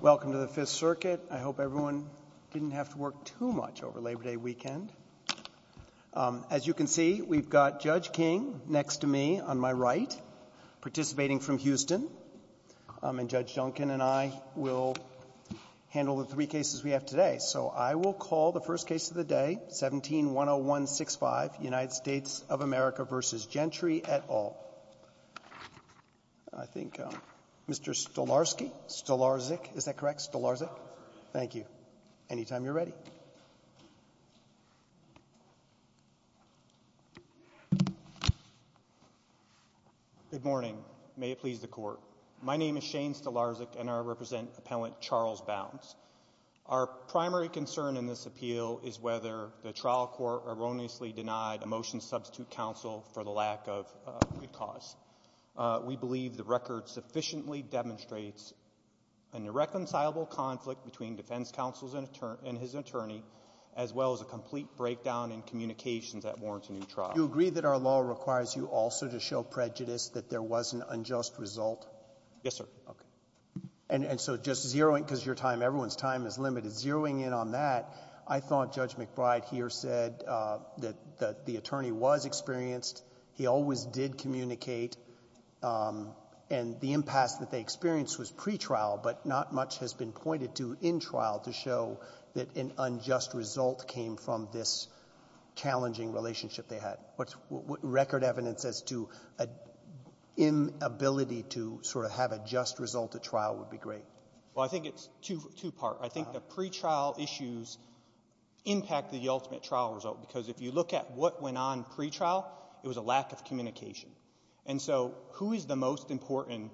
Welcome to the Fifth Circuit. I hope everyone didn't have to work too much over Labor Day weekend. As you can see, we've got Judge King next to me on my right, participating from Houston, and Judge Duncan and I will handle the three cases we have today. So I will call the first case of the day, 17-10165, United States of America v. Gentry, et al. I think Mr. Stolarski? Stolarski? Is that correct? Stolarski? Thank you. Anytime you're ready. Good morning. May it please the Court. My name is Shane Stolarski and I represent Appellant Charles Bounds. Our primary concern in this appeal is whether the trial court erroneously denied a motion to substitute counsel for the lack of a good cause. We believe the record sufficiently demonstrates an irreconcilable conflict between defense counsel and his attorney, as well as a complete breakdown in communications that warrants a new trial. Do you agree that our law requires you also to show prejudice, that there was an unjust result? Yes, sir. Okay. And so just zeroing, because your time, everyone's time is limited, zeroing in on that, I thought Judge McBride here said that the attorney was experienced, he always did communicate, and the impasse that they experienced was pretrial, but not much has been pointed to in trial to show that an unjust result came from this challenging relationship they had. What's record evidence as to an inability to sort of have a just result at trial would be great? Well, I think it's two-part. I think the pretrial issues impact the ultimate trial result, because if you look at what went on pretrial, it was a lack of communication. And so who is the most important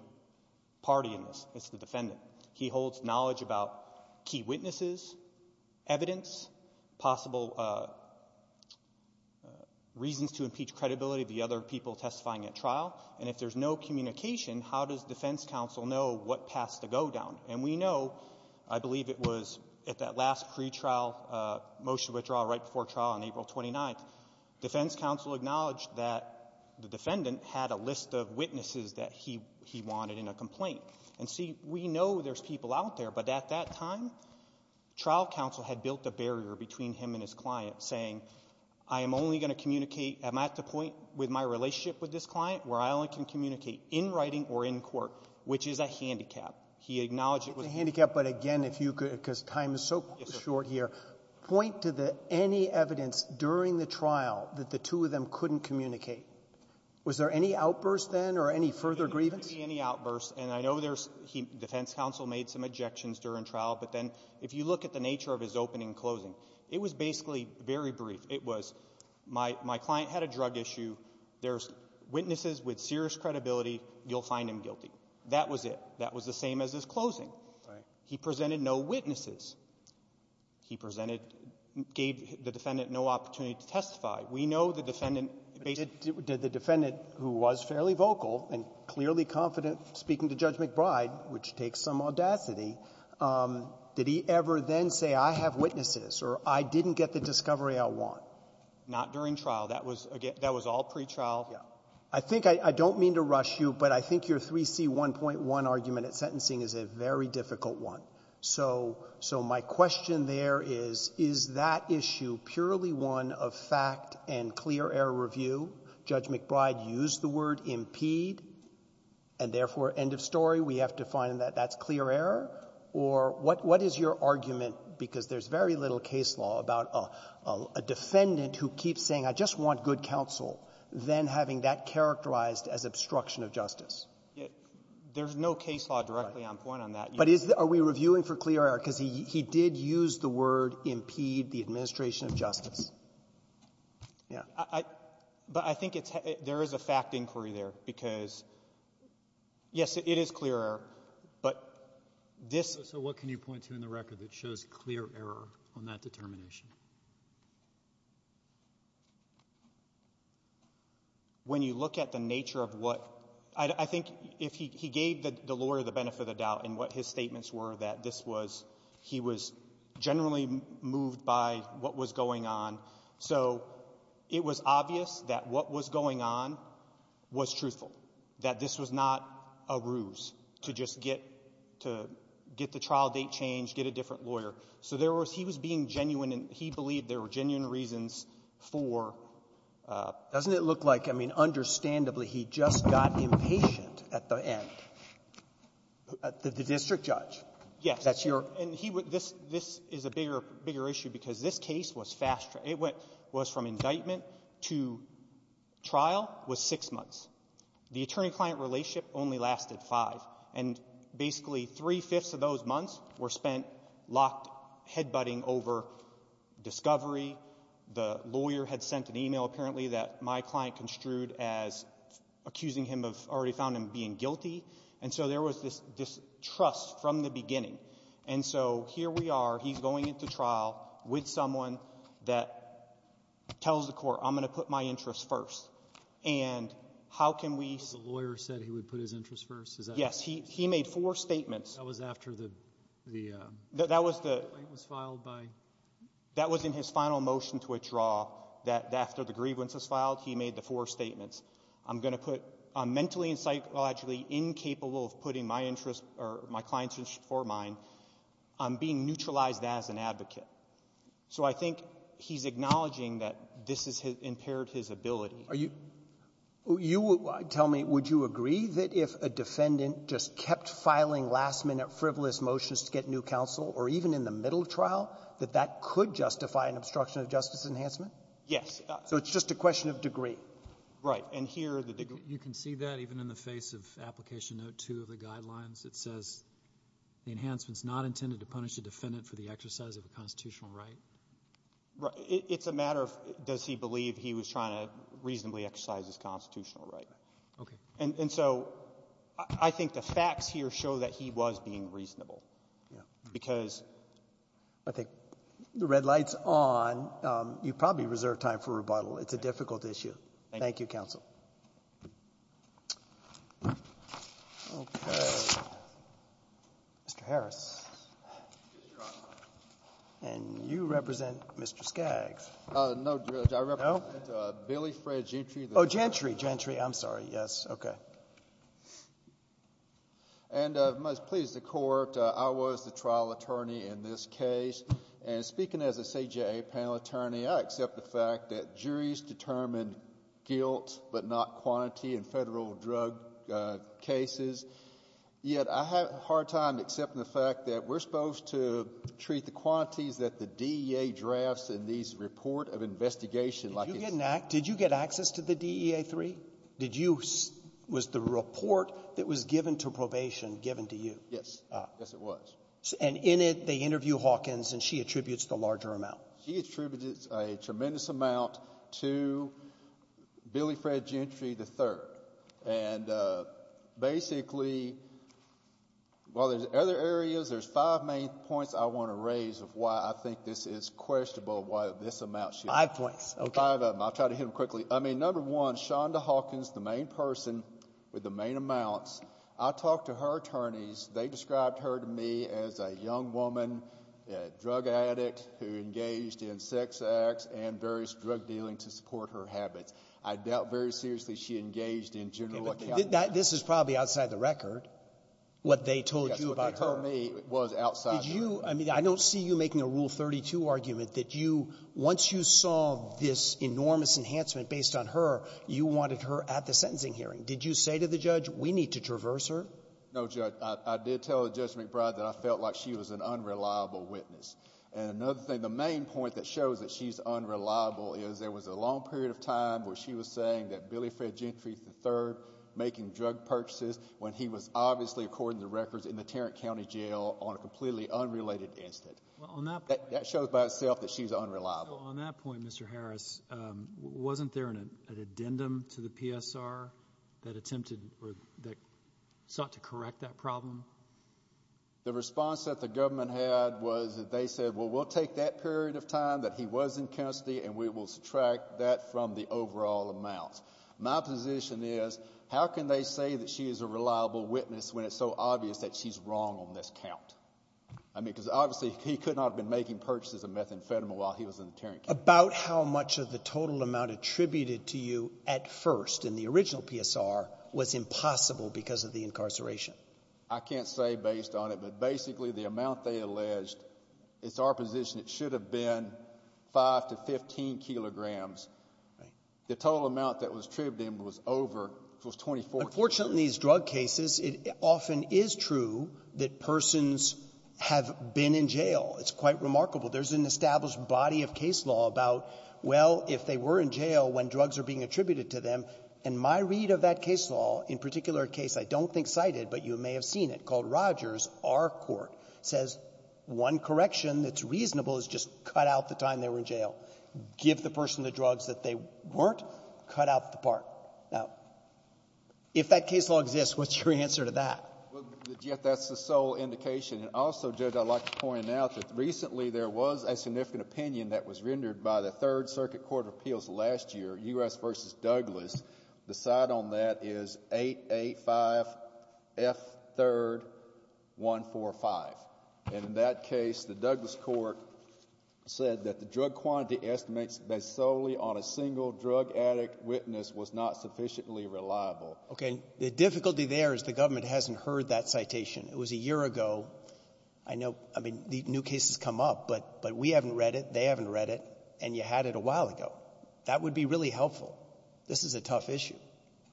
party in this? It's the defendant. He holds knowledge about key witnesses, evidence, possible reasons to impeach credibility of the other people testifying at trial, and if there's no communication, how does defense counsel know what paths to go down? And we know, I believe it was at that last pretrial motion withdrawal right before trial on April 29th, defense counsel acknowledged that the defendant had a list of witnesses that he wanted in a complaint. And see, we know there's people out there, but at that time, trial counsel had built a barrier between him and his client saying, I am only going to communicate, am I at the point with my relationship with this client where I only can communicate in writing or in court, which is a handicap. He acknowledged it was a handicap. But again, if you could, because time is so short here, point to the any evidence during the trial that the two of them couldn't communicate. Was there any outburst then or any further grievance? Any outburst. And I know there's defense counsel made some objections during trial. But then if you look at the nature of his opening and closing, it was basically very brief. It was my client had a drug issue. There's witnesses with serious credibility. You'll find him guilty. That was it. That was the same as his closing. Right. He presented no witnesses. He presented and gave the defendant no opportunity to testify. We know the defendant basically did the defendant who was fairly vocal and clearly confident speaking to Judge McBride, which takes some audacity, did he ever then say, I have witnesses or I didn't get the discovery I want? Not during trial. That was all pre-trial. I think I don't mean to rush you, but I think your 3C1.1 argument at sentencing is a very difficult one. So my question there is, is that issue purely one of fact and clear error review? Judge McBride used the word impede and therefore end of story. We have to find that that's clear error? Or what is your argument, because there's very little case law about a defendant who keeps saying, I just want good counsel, then having that characterized as obstruction of justice? There's no case law directly on point on that. But are we reviewing for clear error? Because he did use the word impede the administration of justice. Yeah. But I think there is a fact inquiry there because, yes, it is clear error. But this— So what can you point to in the record that shows clear error on that determination? When you look at the nature of what—I think if he gave the lawyer the benefit of the doubt in what his statements were that this was—he was generally moved by what was going on. So it was obvious that what was going on was truthful, that this was not a ruse to just get the trial date changed, get a different lawyer. So there was—he was being genuine, and he believed there were genuine reasons for— Doesn't it look like, I mean, understandably, he just got impatient at the end? The district judge? Yes. That's your— This is a bigger issue because this case was fast—it was from indictment to trial was six months. The attorney-client relationship only lasted five. And basically three-fifths of those months were spent locked head-butting over discovery. The lawyer had sent an email, apparently, that my client construed as accusing him of already found him being guilty. And so there was this distrust from the beginning. And so here we are. He's going into trial with someone that tells the court, I'm going to put my interests first. And how can we— The lawyer said he would put his interests first? Is that— Yes. He made four statements. That was after the— That was the— —claim was filed by— That was in his final motion to withdraw that after the grievance was filed, he made the four statements. I'm going to put mentally and psychologically incapable of putting my interests or my client's interests before mine. I'm being neutralized as an advocate. So I think he's acknowledging that this has impaired his ability. Are you — you tell me, would you agree that if a defendant just kept filing last-minute frivolous motions to get new counsel, or even in the middle of trial, that that could justify an obstruction of justice enhancement? Yes. So it's just a question of degree. Right. And here, the degree— You can see that even in the face of Application Note 2 of the guidelines. It says the enhancement's not intended to punish the defendant for the exercise of a constitutional right. It's a matter of does he believe he was trying to reasonably exercise his constitutional right. Okay. And so I think the facts here show that he was being reasonable. Because— I think the red light's on. You probably reserve time for rebuttal. It's a difficult issue. Thank you, counsel. Okay. Mr. Harris. And you represent Mr. Skaggs. No, Judge. I represent Billy Fred Gentry. Oh, Gentry. Gentry. I'm sorry. Yes. Okay. And must please the Court, I was the trial attorney in this case. And speaking as a CJA panel attorney, I accept the fact that juries determine guilt, but not quantity in Federal drug cases. Yet I have a hard time accepting the fact that we're supposed to treat the quantities that the DEA drafts in these report of investigation like it's— Did you get access to the DEA-3? Did you—was the report that was given to probation given to you? Yes. Yes, it was. And in it, they interview Hawkins, and she attributes the larger amount. She attributes a tremendous amount to Billy Fred Gentry III. And basically, while there's other areas, there's five main points I want to raise of why I think this is questionable, why this amount should— Five points. Okay. Five of them. I'll try to hit them quickly. I mean, number one, Shonda Hawkins, the main person with the main amounts, I talked to her attorneys. They described her to me as a young woman, a drug addict who engaged in sex acts and various drug dealing to support her habits. I doubt very seriously she engaged in general accounting. This is probably outside the record, what they told you about her. Yes. What they told me was outside the record. Did you—I mean, I don't see you making a Rule 32 argument that you—once you saw this enormous enhancement based on her, you wanted her at the sentencing hearing. Did you say to the judge, we need to traverse her? No, Judge. I did tell Judge McBride that I felt like she was an unreliable witness. And another thing, the main point that shows that she's unreliable is there was a long period of time where she was saying that Billy Fred Gentry III making drug purchases when he was obviously, according to records, in the Tarrant County Jail on a completely unrelated incident. Well, on that point— That shows by itself that she's unreliable. On that point, Mr. Harris, wasn't there an addendum to the PSR that attempted or that sought to correct that problem? The response that the government had was that they said, well, we'll take that period of time that he was in custody and we will subtract that from the overall amount. My position is, how can they say that she is a reliable witness when it's so obvious that she's wrong on this count? I mean, because obviously, he could not have been making purchases of methamphetamine while he was in the Tarrant County. About how much of the total amount attributed to you at first in the original PSR was impossible because of the incarceration? I can't say based on it, but basically, the amount they alleged, it's our position, it should have been 5 to 15 kilograms. Right. The total amount that was attributed to him was over—it was 24 kilograms. Unfortunately, in these drug cases, it often is true that persons have been in jail. It's quite remarkable. There's an established body of case law about, well, if they were in jail when drugs are being attributed to them, and my read of that case law, in particular a case I don't think cited, but you may have seen it, called Rogers, our court, says one correction that's reasonable is just cut out the time they were in jail. Give the person the drugs that they weren't, cut out the part. Now, if that case law exists, what's your answer to that? Well, Jeff, that's the sole indication. And also, Judge, I'd like to point out that recently there was a significant opinion that was rendered by the Third Circuit Court of Appeals last year, U.S. v. Douglas. The side on that is 885 F. 3rd 145. And in that case, the Douglas court said that the drug quantity estimates based solely on a single drug addict witness was not sufficiently reliable. Okay. The difficulty there is the government hasn't heard that citation. It was a year ago. I know, I mean, new cases come up, but we haven't read it. They haven't read it. And you had it a while ago. That would be really helpful. This is a tough issue.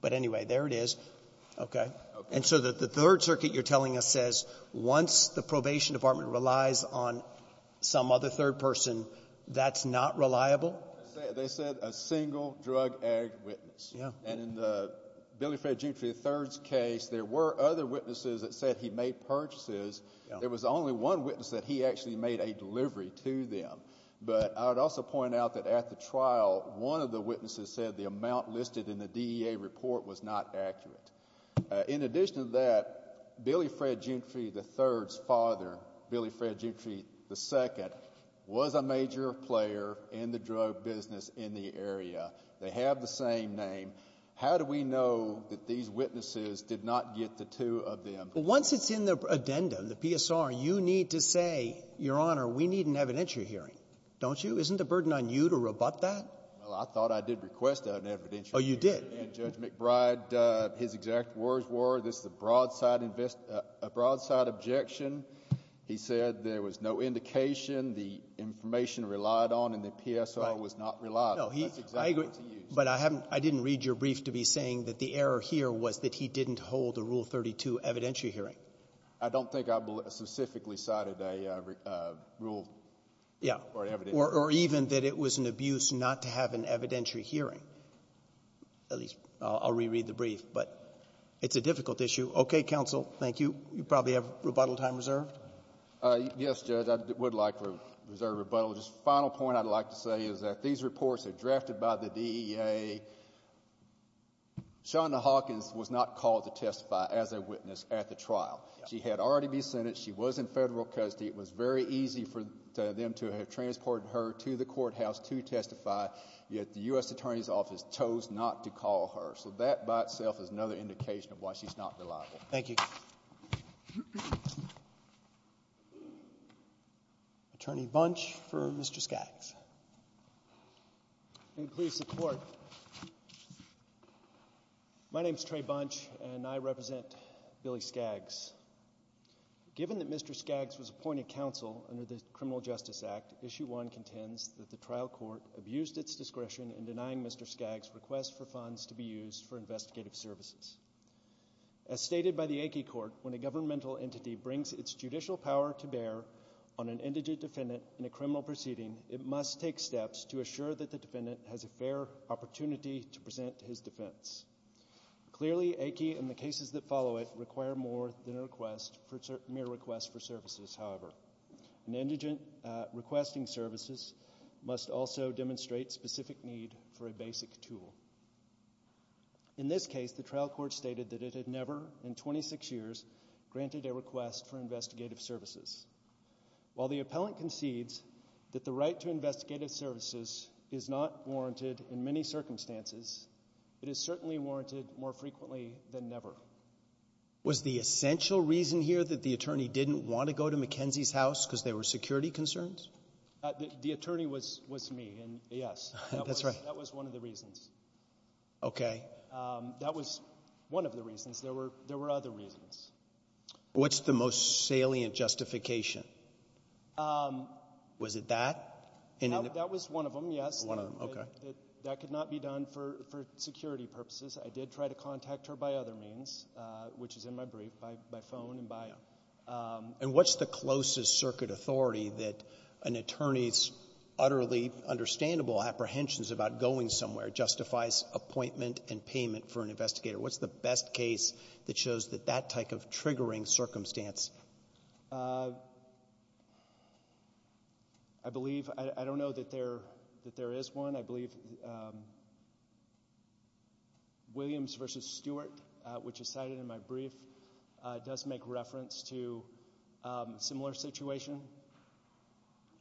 But anyway, there it is. Okay. And so the Third Circuit, you're telling us, says once the probation department relies on some other third person, that's not reliable? They said a single drug addict witness. Yeah. And in the Billy Fred G. 3rd's case, there were other witnesses that said he made purchases. There was only one witness that he actually made a delivery to them. But I would also point out that at the trial, one of the witnesses said the amount listed in the DEA report was not accurate. In addition to that, Billy Fred G. 3rd's father, Billy Fred G. 3rd II, was a major player in the drug business in the area. They have the same name. How do we know that these witnesses did not get the two of them? Once it's in the addendum, the PSR, you need to say, Your Honor, we need an evidentiary hearing. Don't you? Isn't the burden on you to rebut that? Well, I thought I did request an evidentiary hearing. Oh, you did? And Judge McBride, his exact words were, this is a broadside objection. He said there was no indication, the information relied on, and the PSR was not reliable. No, I agree. But I didn't read your brief to be saying that the error here was that he didn't hold a Rule 32 evidentiary hearing. I don't think I specifically cited a rule. Yeah, or even that it was an abuse not to have an evidentiary hearing. At least, I'll reread the brief. But it's a difficult issue. Okay, counsel. Thank you. You probably have rebuttal time reserved. Yes, Judge, I would like to reserve rebuttal. Just final point I'd like to say is that these reports are drafted by the DEA. Shawna Hawkins was not called to testify as a witness at the trial. She had already been sentenced. She was in federal custody. It was very easy for them to have transported her to the courthouse to testify, yet the U.S. Attorney's Office chose not to call her. So that by itself is another indication of why she's not reliable. Thank you. Attorney Bunch for Mr. Skaggs. And please support. My name is Trey Bunch, and I represent Billy Skaggs. Given that Mr. Skaggs was appointed counsel under the Criminal Justice Act, Issue 1 contends that the trial court abused its discretion in denying Mr. Skaggs' request for funds to be used for investigative services. As stated by the Aiki Court, when a governmental entity brings its judicial power to bear on an indigent defendant in a criminal proceeding, it must take steps to assure that the defendant has a fair opportunity to present his defense. Clearly, Aiki and the cases that follow it require more than a mere request for services, however. An indigent requesting services must also demonstrate specific need for a basic tool. In this case, the trial court stated that it had never in 26 years granted a request for investigative services. While the appellant concedes that the right to investigative services is not warranted in many circumstances, it is certainly warranted more frequently than never. Was the essential reason here that the attorney didn't want to go to McKenzie's house because there were security concerns? The attorney was me, and yes, that was one of the reasons. Okay. That was one of the reasons. There were other reasons. What's the most salient justification? Was it that? That was one of them, yes. One of them, okay. That could not be done for security purposes. I did try to contact her by other means, which is in my brief, by phone and bio. And what's the closest circuit authority that an attorney's utterly understandable apprehensions about going somewhere justifies appointment and payment for an investigator? What's the best case that shows that that type of triggering circumstance? I believe, I don't know that there is one. I believe Williams versus Stewart, which is cited in my brief, does make reference to a similar situation.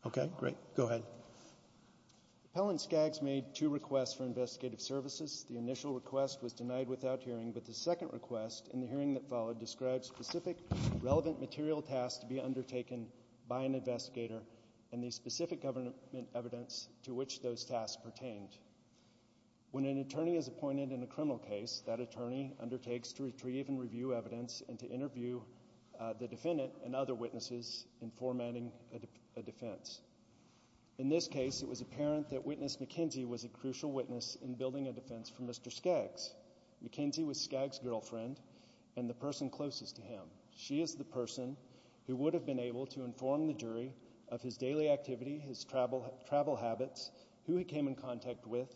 Okay. Great. Go ahead. Appellant Skaggs made two requests for investigative services. The initial request was denied without hearing, but the second request in the hearing that followed described specific relevant material tasks to be undertaken by an investigator and the specific government evidence to which those tasks pertained. When an attorney is appointed in a criminal case, that attorney undertakes to retrieve and review evidence and to interview the defendant and other witnesses in formatting a defense. In this case, it was apparent that Witness McKenzie was a crucial witness in building a defense for Mr. Skaggs. McKenzie was Skaggs' girlfriend and the person closest to him. She is the person who would have been able to inform the jury of his daily activity, his travel habits, who he came in contact with,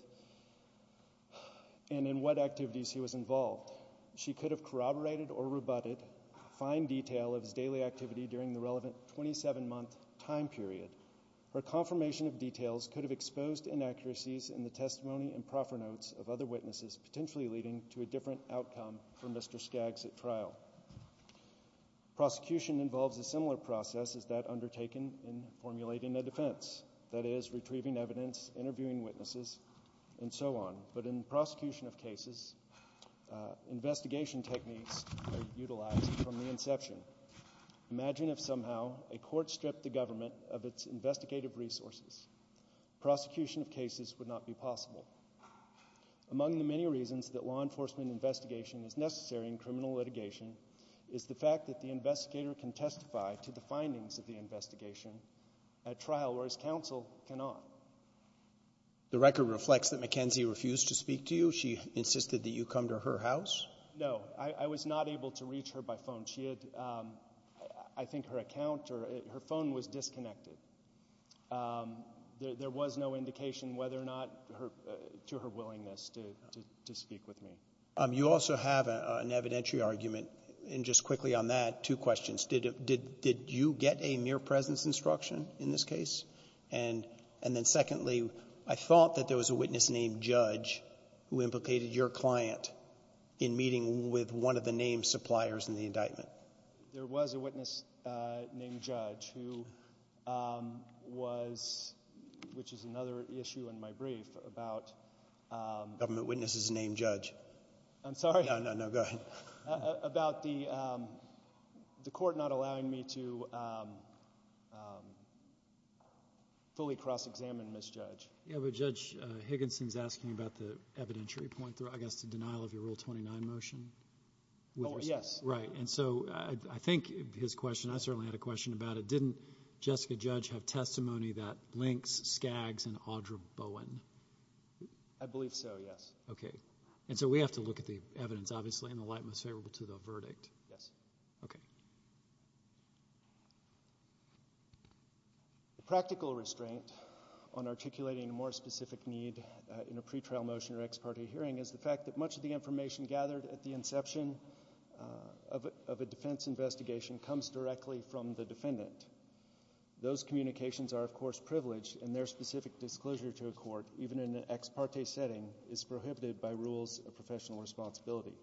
and in what activities he was involved. She could have corroborated or rebutted fine detail of his daily activity during the relevant 27-month time period. Her confirmation of details could have exposed inaccuracies in the testimony and proffer notes of other witnesses, potentially leading to a different outcome for Mr. Skaggs at trial. Prosecution involves a similar process as that undertaken in formulating a defense, that is, retrieving evidence, interviewing witnesses, and so on. But in prosecution of cases, investigation techniques are utilized from the inception. Imagine if somehow a court stripped the government of its investigative resources. Prosecution of cases would not be possible. Among the many reasons that law enforcement investigation is necessary in criminal litigation is the fact that the investigator can testify to the findings of the investigation at trial, whereas counsel cannot. The record reflects that McKenzie refused to speak to you. She insisted that you come to her house? No, I was not able to reach her by phone. She had, I think, her account or her phone was disconnected. There was no indication whether or not to her willingness to speak with me. You also have an evidentiary argument, and just quickly on that, two questions. Did you get a mere presence instruction in this case? And then secondly, I thought that there was a witness named Judge who implicated your client in meeting with one of the name suppliers in the indictment. There was a witness named Judge who was, which is another issue in my brief about— Government witnesses named Judge. I'm sorry. No, no, no, go ahead. About the court not allowing me to fully cross-examine Ms. Judge. Yeah, but Judge Higginson's asking about the evidentiary point, I guess, the denial of your Rule 29 motion. Oh, yes. Right, and so I think his question, I certainly had a question about it. Didn't Jessica Judge have testimony that links Skaggs and Audra Bowen? I believe so, yes. Okay, and so we have to look at the evidence, obviously, in the light most favorable to the verdict. Yes. Okay. The practical restraint on articulating a more specific need in a pretrial motion or ex parte hearing is the fact that much of the information gathered at the inception of a defense investigation comes directly from the defendant. Those communications are, of course, privileged, and their specific disclosure to a court, even in an ex parte setting, is prohibited by rules of professional responsibility.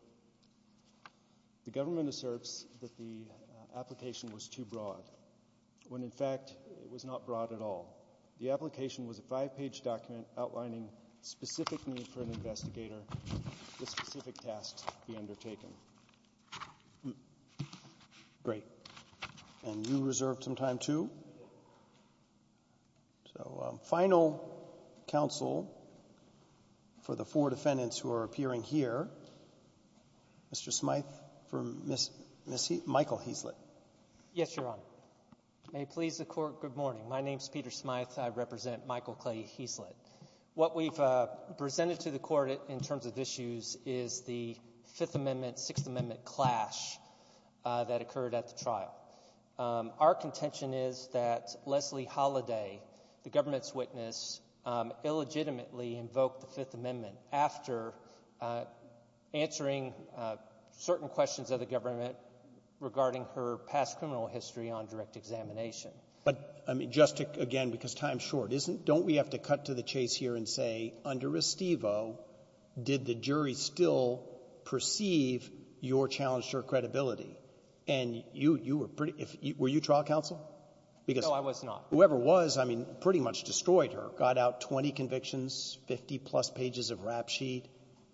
The government asserts that the application was too broad, when, in fact, it was not broad at all. The application was a five-page document outlining specific need for an investigator with specific tasks to be undertaken. Great, and you reserved some time, too? Yes. So final counsel for the four defendants who are appearing here, Mr. Smythe for Ms. Michael Heaslett. Yes, Your Honor. May it please the Court, good morning. My name is Peter Smythe. I represent Michael Clay Heaslett. What we've presented to the Court in terms of issues is the Fifth Amendment, Sixth Amendment clash that occurred at the trial. Our contention is that Leslie Holliday, the government's witness, illegitimately invoked the Fifth Amendment after answering certain questions of the government regarding her past criminal history on direct examination. But, I mean, just again, because time's short, don't we have to cut to the chase here and say, under Restivo, did the jury still perceive your challenge to her credibility? And were you trial counsel? No, I was not. Whoever was, I mean, pretty much destroyed her. Got out 20 convictions, 50-plus pages of rap sheet.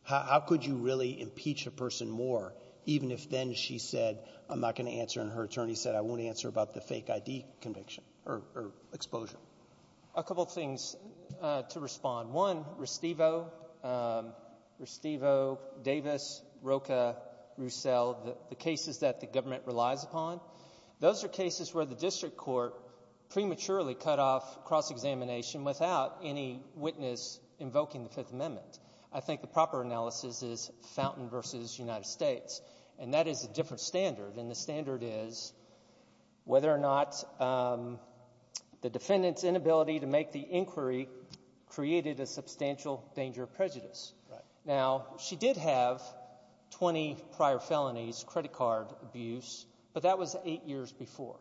How could you really impeach a person more even if then she said, I'm not going to answer, and her attorney said, I won't answer about the fake ID conviction or exposure? A couple of things to respond. One, Restivo, Davis, Rocha, Roussel, the cases that the government relies upon, those are cases where the district court prematurely cut off cross-examination without any witness invoking the Fifth Amendment. I think the proper analysis is Fountain v. United States, and that is a different standard. And the standard is whether or not the defendant's inability to make the inquiry created a substantial danger of prejudice. Now, she did have 20 prior felonies, credit card abuse, but that was eight years before.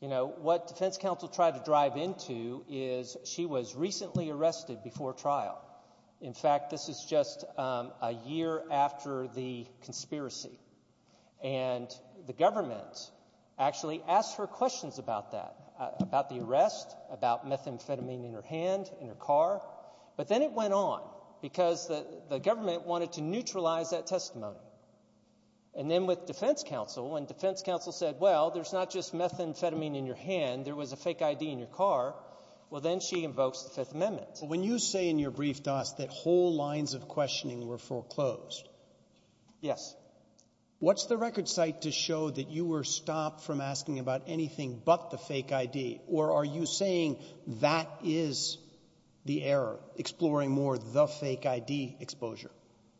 What defense counsel tried to drive into is she was recently arrested before trial. In fact, this is just a year after the conspiracy. And the government actually asked her questions about that, about the arrest, about methamphetamine in her hand, in her car. But then it went on because the government wanted to neutralize that testimony. And then with defense counsel, when defense counsel said, well, there's not just methamphetamine in your hand. There was a fake ID in your car. Well, then she invokes the Fifth Amendment. When you say in your brief, Doss, that whole lines of questioning were foreclosed. Yes. What's the record site to show that you were stopped from asking about anything but the fake ID? Or are you saying that is the error, exploring more the fake ID exposure?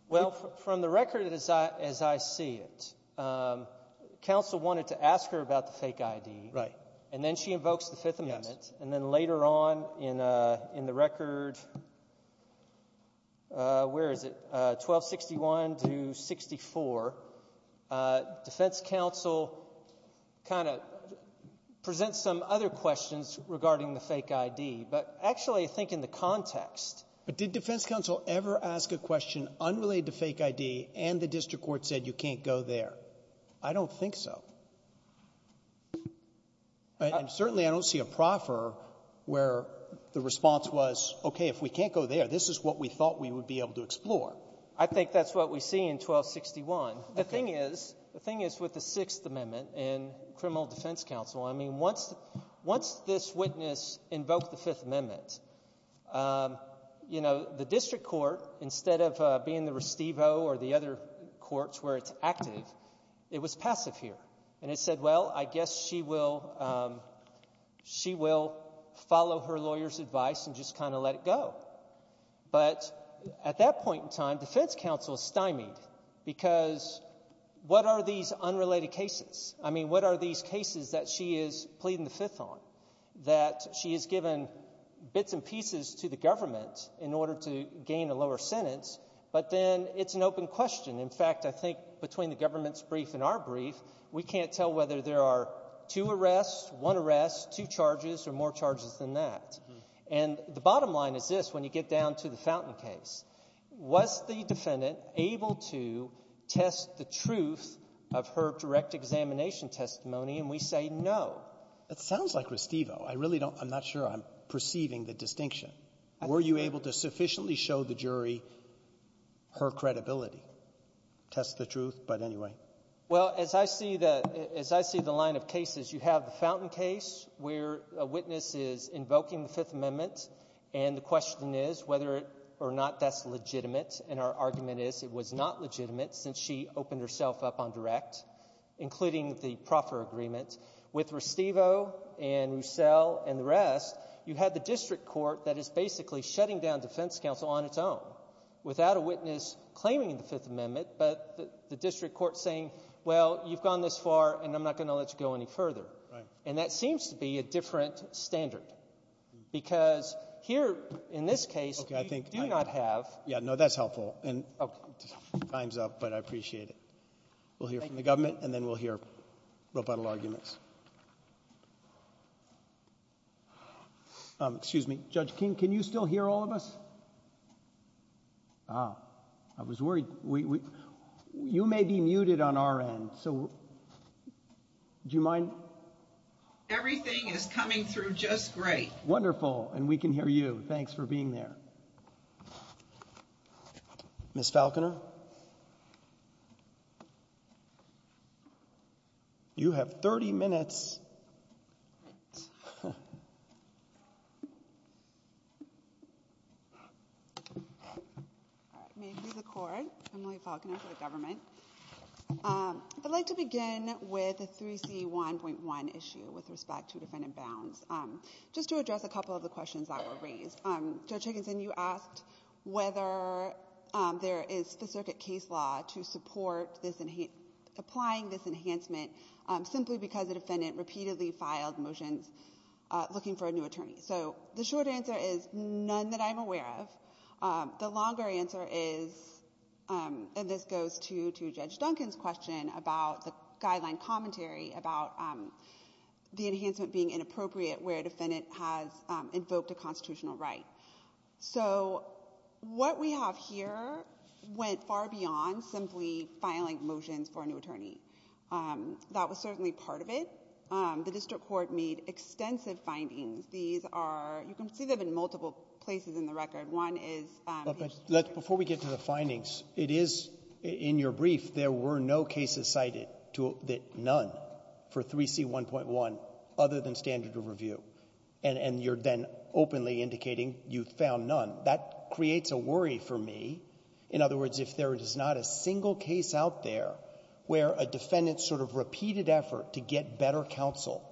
Well, from the record as I see it, counsel wanted to ask her about the fake ID. Right. And then she invokes the Fifth Amendment. And then later on in the record, where is it, 1261 to 64, defense counsel kind of presents some other questions regarding the fake ID. But actually, I think in the context. But did defense counsel ever ask a question unrelated to fake ID and the district court said you can't go there? I don't think so. And certainly I don't see a proffer where the response was, okay, if we can't go there, this is what we thought we would be able to explore. I think that's what we see in 1261. The thing is with the Sixth Amendment and criminal defense counsel, I mean, once this witness invoked the Fifth Amendment, the district court, instead of being the restivo or the other courts where it's active, it was passive here. And it said, well, I guess she will follow her lawyer's advice and just kind of let it go. But at that point in time, defense counsel stymied because what are these unrelated cases? I mean, what are these cases that she is pleading the Fifth on, that she has given bits and pieces to the government in order to gain a lower sentence? But then it's an open question. In fact, I think between the government's brief and our brief, we can't tell whether there are two arrests, one arrest, two charges or more charges than that. And the bottom line is this, when you get down to the Fountain case, was the defendant able to test the truth of her direct examination testimony? And we say no. It sounds like restivo. I really don't. I'm not sure I'm perceiving the distinction. Were you able to sufficiently show the jury her credibility? Test the truth, but anyway. Well, as I see the line of cases, you have the Fountain case where a witness is invoking the Fifth Amendment, and the question is whether or not that's legitimate. And our argument is it was not legitimate since she opened herself up on direct, including the proffer agreement. With restivo and Roussel and the rest, you had the district court that is basically shutting down defense counsel on its own without a witness claiming the Fifth Amendment, but the district court saying, well, you've gone this far, and I'm not going to let you go any further. And that seems to be a different standard. Because here, in this case, we do not have. Yeah, no, that's helpful. And time's up, but I appreciate it. We'll hear from the government, and then we'll hear rebuttal arguments. Excuse me. Judge King, can you still hear all of us? Ah, I was worried. You may be muted on our end, so do you mind? Everything is coming through just great. Wonderful. And we can hear you. Thanks for being there. Ms. Falconer? You have 30 minutes. All right. May it please the court. Emily Falconer for the government. I'd like to begin with a 3C1.1 issue with respect to defendant bounds. Just to address a couple of the questions that were raised. Judge Higginson, you asked whether there is the circuit case law to support applying this enhancement simply because the defendant repeatedly filed motions looking for a new attorney. So the short answer is none that I'm aware of. The longer answer is, and this goes to Judge Duncan's question about the guideline commentary about the enhancement being inappropriate where a defendant has invoked a constitutional right. So what we have here went far beyond simply filing motions for a new attorney. That was certainly part of it. The district court made extensive findings. These are, you can see them in multiple places in the record. One is... Before we get to the findings, it is in your brief, there were no cases cited that none for 3C1.1 other than standard of review. And you're then openly indicating you found none. That creates a worry for me. In other words, if there is not a single case out there where a defendant's sort of repeated effort to get better counsel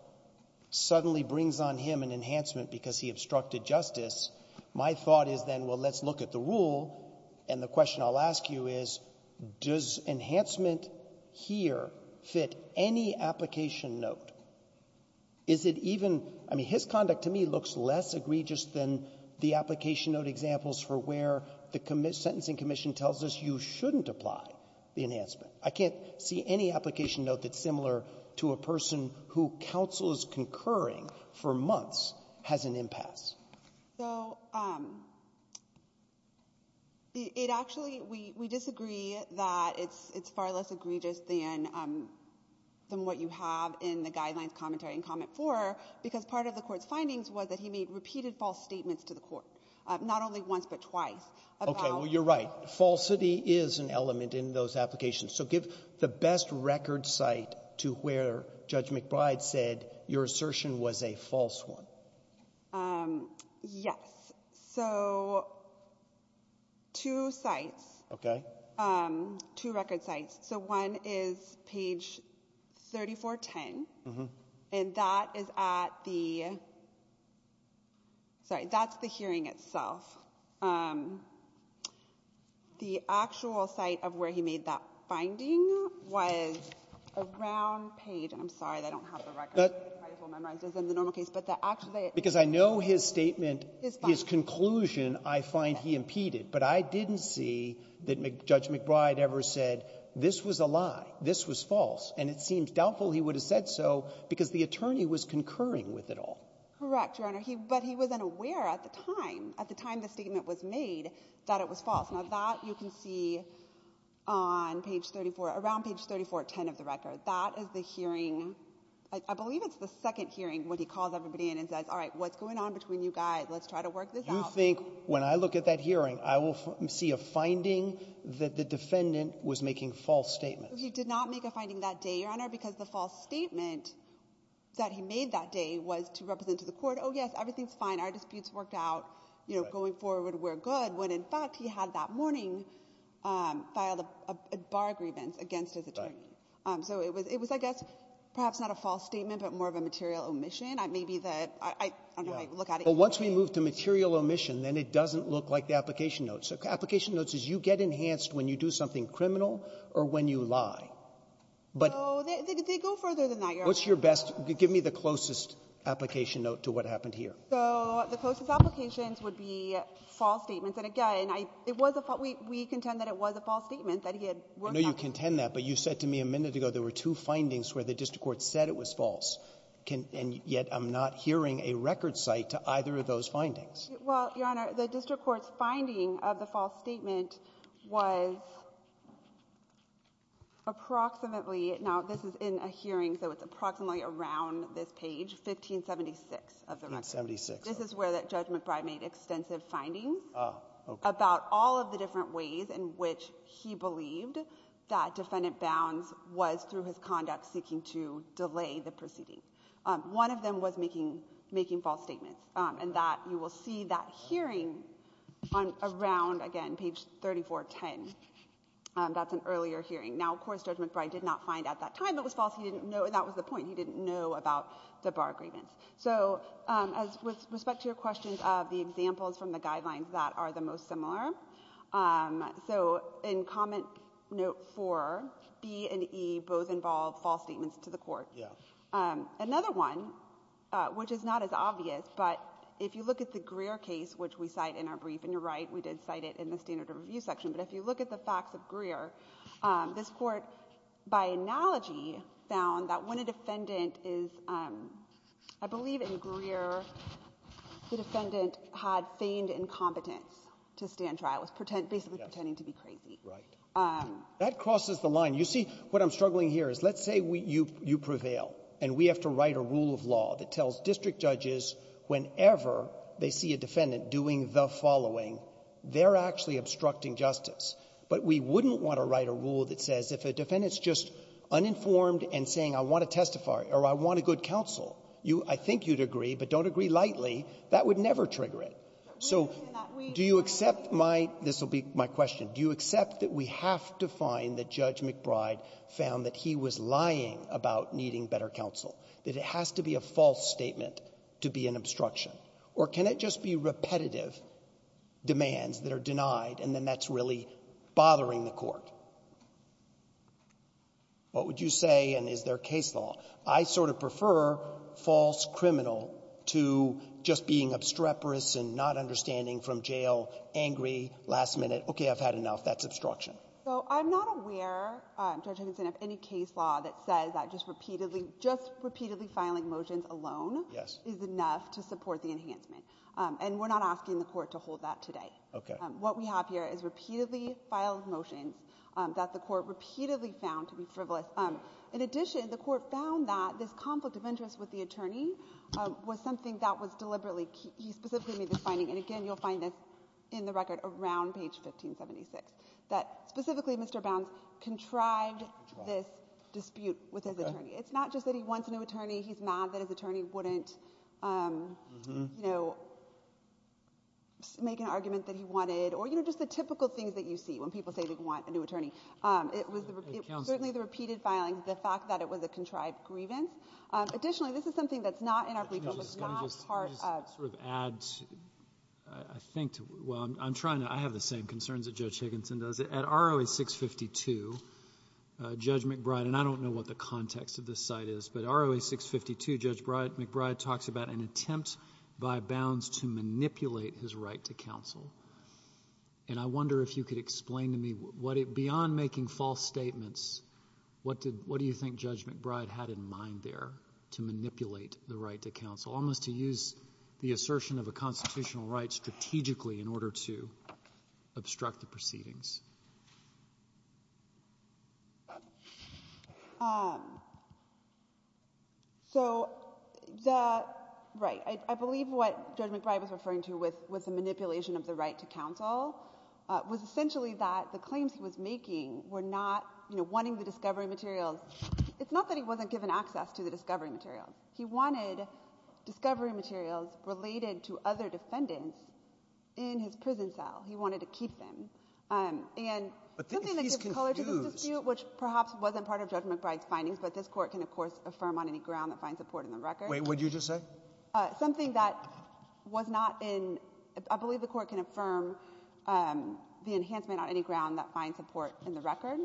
suddenly brings on him an enhancement because he obstructed justice, my thought is then, well, let's look at the rule. And the question I'll ask you is, does enhancement here fit any application note? Is it even — I mean, his conduct to me looks less egregious than the application note examples for where the sentencing commission tells us you shouldn't apply the enhancement. I can't see any application note that's similar to a person who counsel is concurring for months has an impasse. So it actually — we disagree that it's far less egregious than what you have in the guidelines, commentary, and comment four, because part of the court's findings was that he made repeated false statements to the court, not only once but twice. Okay, well, you're right. Falsity is an element in those applications. So give the best record site to where Judge McBride said your assertion was a false one. Yes. So two sites. Okay. Two record sites. So one is page 3410, and that is at the — sorry, that's the hearing itself. The actual site of where he made that finding was around page — I'm sorry, I don't have the record. It's in the normal case. Because I know his statement, his conclusion, I find he impeded. But I didn't see that Judge McBride ever said this was a lie, this was false. And it seems doubtful he would have said so because the attorney was concurring with it all. Correct, Your Honor. But he wasn't aware at the time, at the time the statement was made, that it was false. Now, that you can see on page 34 — around page 3410 of the record. That is the hearing — I believe it's the second hearing when he calls everybody in and says, all right, what's going on between you guys? Let's try to work this out. You think when I look at that hearing, I will see a finding that the defendant was making false statements? He did not make a finding that day, Your Honor, because the false statement that he made that day was to represent to the court, oh, yes, everything's fine. Our disputes worked out. You know, going forward, we're good. When, in fact, he had that morning filed a bar grievance against his attorney. So it was, I guess, perhaps not a false statement, but more of a material omission. Maybe the — I don't know how you look at it. But once we move to material omission, then it doesn't look like the application notes. Application notes is you get enhanced when you do something criminal or when you lie. So they go further than that, Your Honor. What's your best — give me the closest application note to what happened here. So the closest applications would be false statements. And, again, it was a — we contend that it was a false statement that he had worked out. I know you contend that, but you said to me a minute ago there were two findings where the district court said it was false. And yet I'm not hearing a record cite to either of those findings. Well, Your Honor, the district court's finding of the false statement was approximately — now, this is in a hearing, so it's approximately around this page, 1576. 1576, okay. This is where Judge McBride made extensive findings about all of the different ways in that Defendant Bounds was, through his conduct, seeking to delay the proceeding. One of them was making false statements. And that — you will see that hearing around, again, page 3410. That's an earlier hearing. Now, of course, Judge McBride did not find at that time it was false. He didn't know — that was the point. He didn't know about the bar grievance. So with respect to your questions of the examples from the guidelines that are the most similar, um, so in Comment Note 4, B and E both involve false statements to the court. Yeah. Another one, which is not as obvious, but if you look at the Greer case, which we cite in our brief — and you're right, we did cite it in the standard of review section — but if you look at the facts of Greer, this court, by analogy, found that when a defendant is — I believe in Greer, the defendant had feigned incompetence to stand trial. It was basically pretending to be crazy. Right. That crosses the line. You see, what I'm struggling here is, let's say you prevail, and we have to write a rule of law that tells district judges whenever they see a defendant doing the following, they're actually obstructing justice. But we wouldn't want to write a rule that says if a defendant's just uninformed and saying, I want to testify or I want a good counsel, you — I think you'd agree, but don't agree lightly. That would never trigger it. So do you accept my — this will be my question. Do you accept that we have to find that Judge McBride found that he was lying about needing better counsel, that it has to be a false statement to be an obstruction? Or can it just be repetitive demands that are denied, and then that's really bothering the court? What would you say? And is there case law? I sort of prefer false criminal to just being obstreperous and not understanding from jail, angry, last-minute, okay, I've had enough, that's obstruction. So I'm not aware, Judge Higginson, of any case law that says that just repeatedly — just repeatedly filing motions alone is enough to support the enhancement. And we're not asking the court to hold that today. Okay. What we have here is repeatedly filed motions that the court repeatedly found to be frivolous. In addition, the court found that this conflict of interest with the attorney was something that was deliberately — he specifically made this finding, and again, you'll find this in the record around page 1576, that specifically Mr. Bounds contrived this dispute with his attorney. It's not just that he wants a new attorney. He's mad that his attorney wouldn't, you know, make an argument that he wanted. Or, you know, just the typical things that you see when people say they want a new attorney. It was certainly the repeated filing, the fact that it was a contrived grievance. Additionally, this is something that's not in our brief. It was not part of — Let me just sort of add, I think — well, I'm trying to — I have the same concerns that Judge Higginson does. At ROA 652, Judge McBride — and I don't know what the context of this site is, but ROA 652, Judge McBride talks about an attempt by Bounds to manipulate his right to counsel. And I wonder if you could explain to me what it — beyond making false statements, what did — what do you think Judge McBride had in mind there to manipulate the right to counsel, almost to use the assertion of a constitutional right strategically in order to obstruct the proceedings? So, the — right, I believe what Judge McBride was referring to with the manipulation of the right to counsel was essentially that the claims he was making were not — you know, wanting the discovery materials. It's not that he wasn't given access to the discovery materials. He wanted discovery materials related to other defendants in his prison cell. He wanted to keep them. And something that gives color to this dispute, which perhaps wasn't part of Judge McBride's findings, but this Court can, of course, affirm on any ground that finds support in the record. Wait, what did you just say? Something that was not in — I believe the Court can affirm the enhancement on any ground that finds support in the record.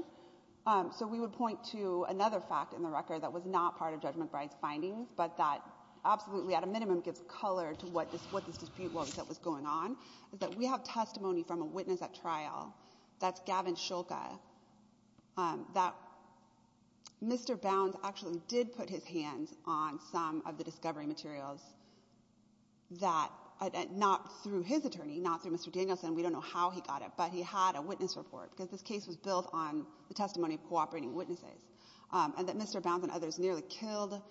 So we would point to another fact in the record that was not part of Judge McBride's findings, but that absolutely, at a minimum, gives color to what this dispute was that was going on, is that we have testimony from a witness at trial, that's Gavin Shulka, that Mr. Bounds actually did put his hands on some of the discovery materials that — not through his attorney, not through Mr. Danielson. We don't know how he got it, but he had a witness report, because this case was built on the testimony of cooperating witnesses, and that Mr. Bounds and others nearly killed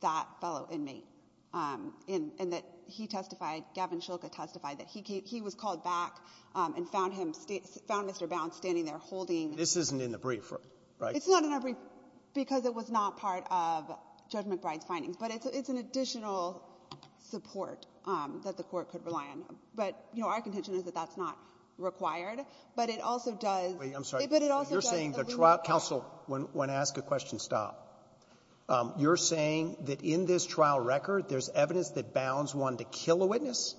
that fellow inmate, and that he testified, Gavin Shulka testified, that he was called back and found him — found Mr. Bounds standing there holding — This isn't in the brief, right? It's not in the brief, because it was not part of Judge McBride's findings. But it's an additional support that the Court could rely on. But, you know, our contention is that that's not required. But it also does — Wait, I'm sorry. But it also does — You're saying the trial — counsel, when asked a question, stop. You're saying that in this trial record, there's evidence that Bounds wanted to kill a witness?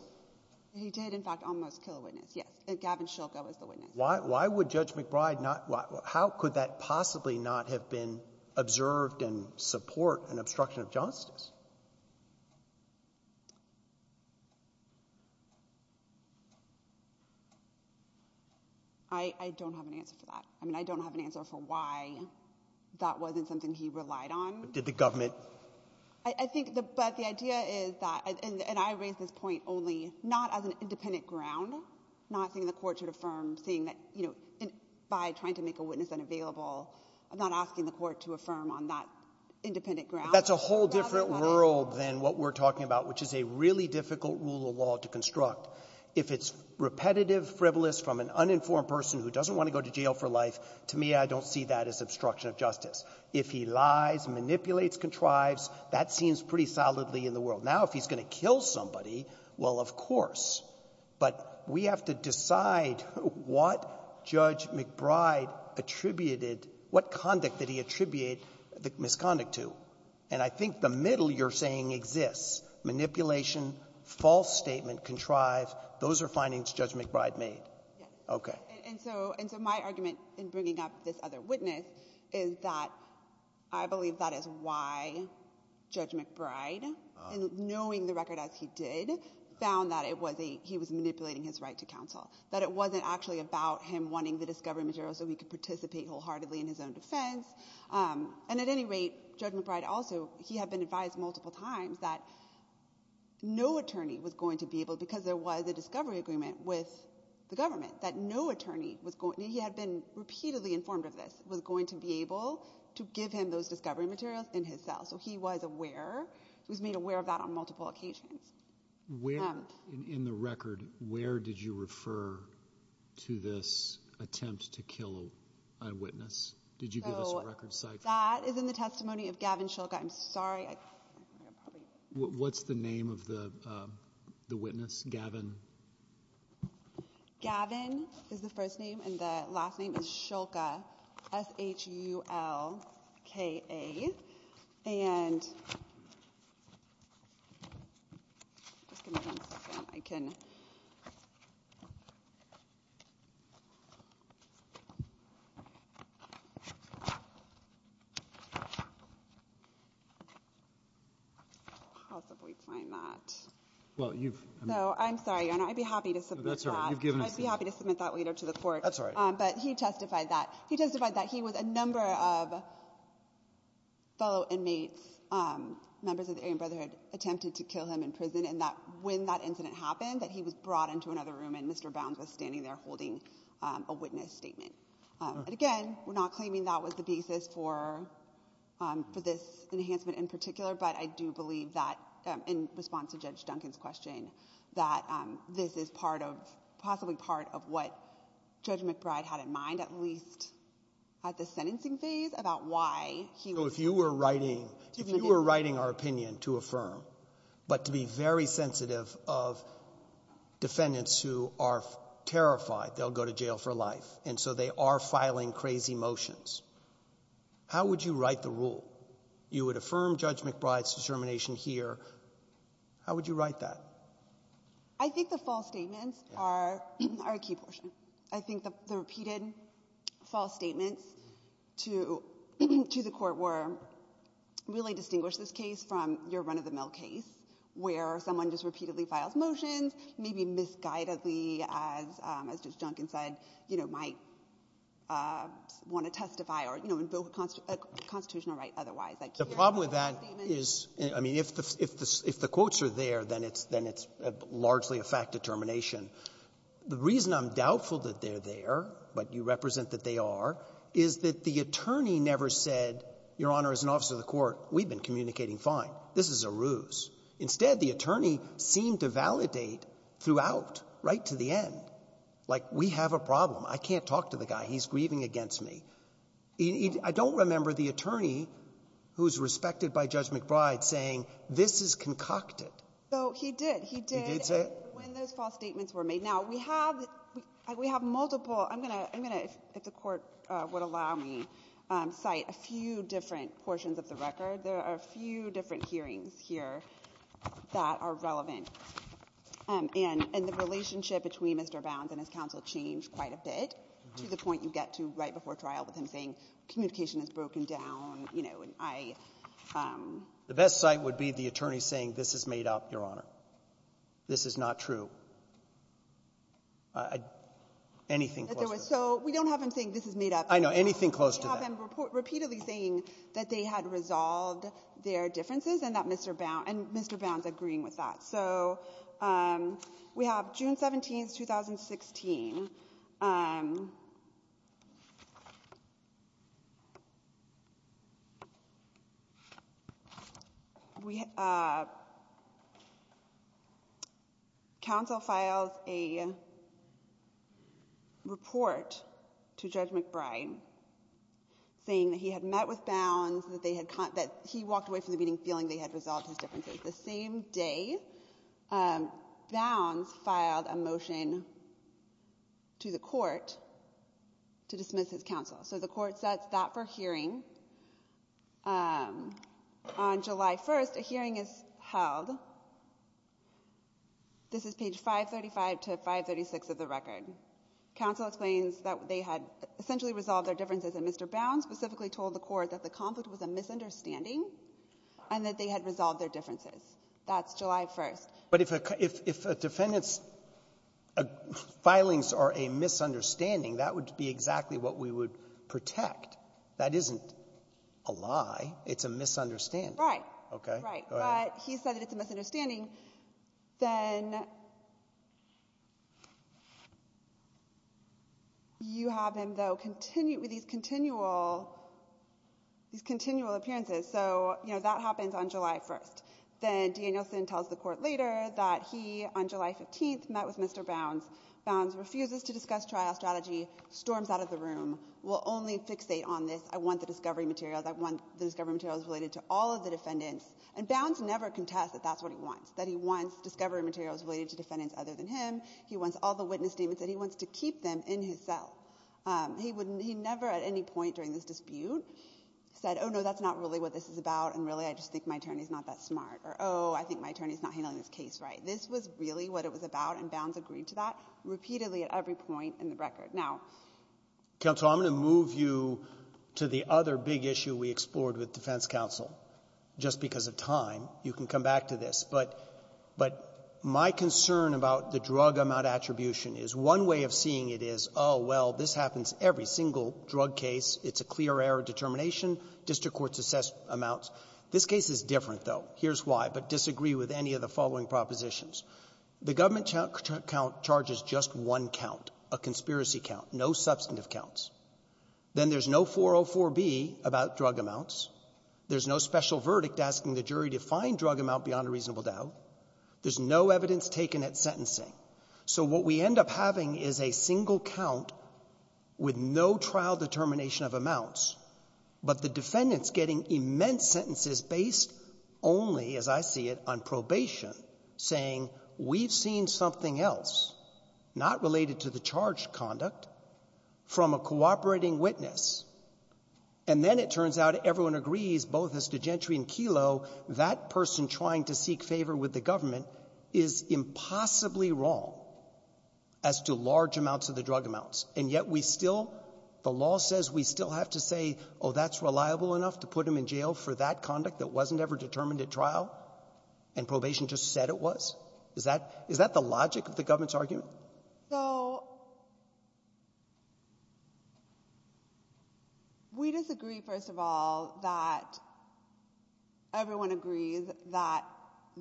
He did, in fact, almost kill a witness, yes. Gavin Shulka was the witness. Why would Judge McBride not — how could that possibly not have been observed and support an obstruction of justice? I don't have an answer for that. I mean, I don't have an answer for why that wasn't something he relied on. Did the government — I think — but the idea is that — and I raise this point only not as an independent ground, not saying the Court should affirm, saying that, you know, by trying to make a witness unavailable, I'm not asking the Court to affirm on that independent ground. That's a whole different world than what we're talking about, which is a really difficult rule of law to construct. If it's repetitive frivolous from an uninformed person who doesn't want to go to jail for life, to me, I don't see that as obstruction of justice. If he lies, manipulates, contrives, that seems pretty solidly in the world. Now, if he's going to kill somebody, well, of course. But we have to decide what Judge McBride attributed — what conduct did he attribute the misconduct to. And I think the middle you're saying exists. Manipulation, false statement, contrive, those are findings Judge McBride made. Yes. Okay. And so my argument in bringing up this other witness is that I believe that is why Judge McBride, in knowing the record as he did, found that he was manipulating his right to counsel, that it wasn't actually about him wanting the discovery material so he could participate wholeheartedly in his own defense. And at any rate, Judge McBride also, he had been advised multiple times that no attorney was going to be able — because there was a discovery agreement with government — that no attorney was going — he had been repeatedly informed of this — was going to be able to give him those discovery materials in his cell. So he was aware. He was made aware of that on multiple occasions. Where in the record, where did you refer to this attempt to kill an eyewitness? Did you give us a record site? That is in the testimony of Gavin Shilka. I'm sorry. What's the name of the witness? Gavin? Gavin is the first name and the last name is Shilka, S-H-U-L-K-A. And I can possibly find that. Well, you've — So I'm sorry, Your Honor. I'd be happy to submit that later to the Court. That's all right. But he testified that. He testified that he was a number of fellow inmates, members of the Aryan Brotherhood attempted to kill him in prison, and that when that incident happened that he was brought into another room and Mr. Bounds was standing there holding a witness statement. And again, we're not claiming that was the basis for this enhancement in particular, but I do believe that in response to Judge Duncan's question that this is possibly part of what Judge McBride had in mind, at least at the sentencing phase, about why he was — So if you were writing our opinion to affirm, but to be very sensitive of defendants who are terrified they'll go to jail for life, and so they are filing crazy motions, how would you write the rule? You would affirm Judge McBride's determination here. How would you write that? I think the false statements are a key portion. I think the repeated false statements to the Court were really distinguish this case from your run-of-the-mill case where someone just repeatedly files motions, maybe misguidedly, as Judge Duncan said, you know, might want to testify or, you know, invoke a constitutional right otherwise. The problem with that is, I mean, if the quotes are there, then it's largely a fact determination. The reason I'm doubtful that they're there, but you represent that they are, is that the attorney never said, Your Honor, as an officer of the Court, we've been communicating fine. This is a ruse. Instead, the attorney seemed to validate throughout, right to the end, like we have a problem. I can't talk to the guy. He's grieving against me. I don't remember the attorney who's respected by Judge McBride saying, This is concocted. So he did. He did when those false statements were made. Now, we have multiple. I'm going to, if the Court would allow me, cite a few different portions of the record. There are a few different hearings here that are relevant. And the relationship between Mr. Bounds and his counsel changed quite a bit to the point you get to right before trial with him saying communication is broken down, you know, and I. The best cite would be the attorney saying, This is made up, Your Honor. This is not true. Anything close to that. So we don't have him saying, This is made up. I know. Anything close to that. Repeatedly saying that they had resolved their differences and that Mr. Bounds agreeing with that. So we have June 17, 2016. Um, we, uh, counsel files a report to Judge McBride saying that he had met with Bounds, that they had, that he walked away from the meeting feeling they had resolved his differences. The same day, um, Bounds filed a motion to the Court to dismiss his counsel. So the Court sets that for hearing. Um, on July 1st, a hearing is held. This is page 535 to 536 of the record. Counsel explains that they had essentially resolved their differences and Mr. Bounds specifically told the Court that the conflict was a misunderstanding and that they had resolved their differences. That's July 1st. But if a, if, if a defendant's filings are a misunderstanding, that would be exactly what we would protect. That isn't a lie. It's a misunderstanding. Right. Okay. Right. But he said that it's a misunderstanding. Then you have him though continue with these continual, these continual appearances. So, you know, that happens on July 1st. Then Danielson tells the Court later that he, on July 15th, met with Mr. Bounds. Bounds refuses to discuss trial strategy. Storms out of the room. Will only fixate on this. I want the discovery materials. I want the discovery materials related to all of the defendants. And Bounds never contests that that's what he wants. That he wants discovery materials related to defendants other than him. He wants all the witness statements. That he wants to keep them in his cell. He wouldn't, he never at any point during this dispute said, oh no, that's not really what this is about, and really I just think my attorney's not that smart. Or, oh, I think my attorney's not handling this case right. This was really what it was about, and Bounds agreed to that repeatedly at every point in the record. Now, Counsel, I'm going to move you to the other big issue we explored with defense counsel, just because of time. You can come back to this. But my concern about the drug amount attribution is one way of seeing it is, oh, well, this happens every single drug case. It's a clear error determination. District courts assess amounts. This case is different, though. Here's why, but disagree with any of the following propositions. The government charges just one count, a conspiracy count, no substantive counts. Then there's no 404B about drug amounts. There's no special verdict asking the jury to find drug amount beyond a reasonable doubt. There's no evidence taken at sentencing. So what we end up having is a single count with no trial determination of amounts, but the defendants getting immense sentences based only, as I see it, on probation, saying we've seen something else, not related to the charged conduct, from a cooperating witness. And then it turns out everyone agrees, both as to Gentry and Kelo, that person trying to seek favor with the government is impossibly wrong as to large amounts of the drug amounts. And yet we still, the law says we still have to say, oh, that's reliable enough to put him in jail for that conduct that wasn't ever determined at trial, and probation just said it was. Is that the logic of the government's argument? So we disagree, first of all, that everyone agrees that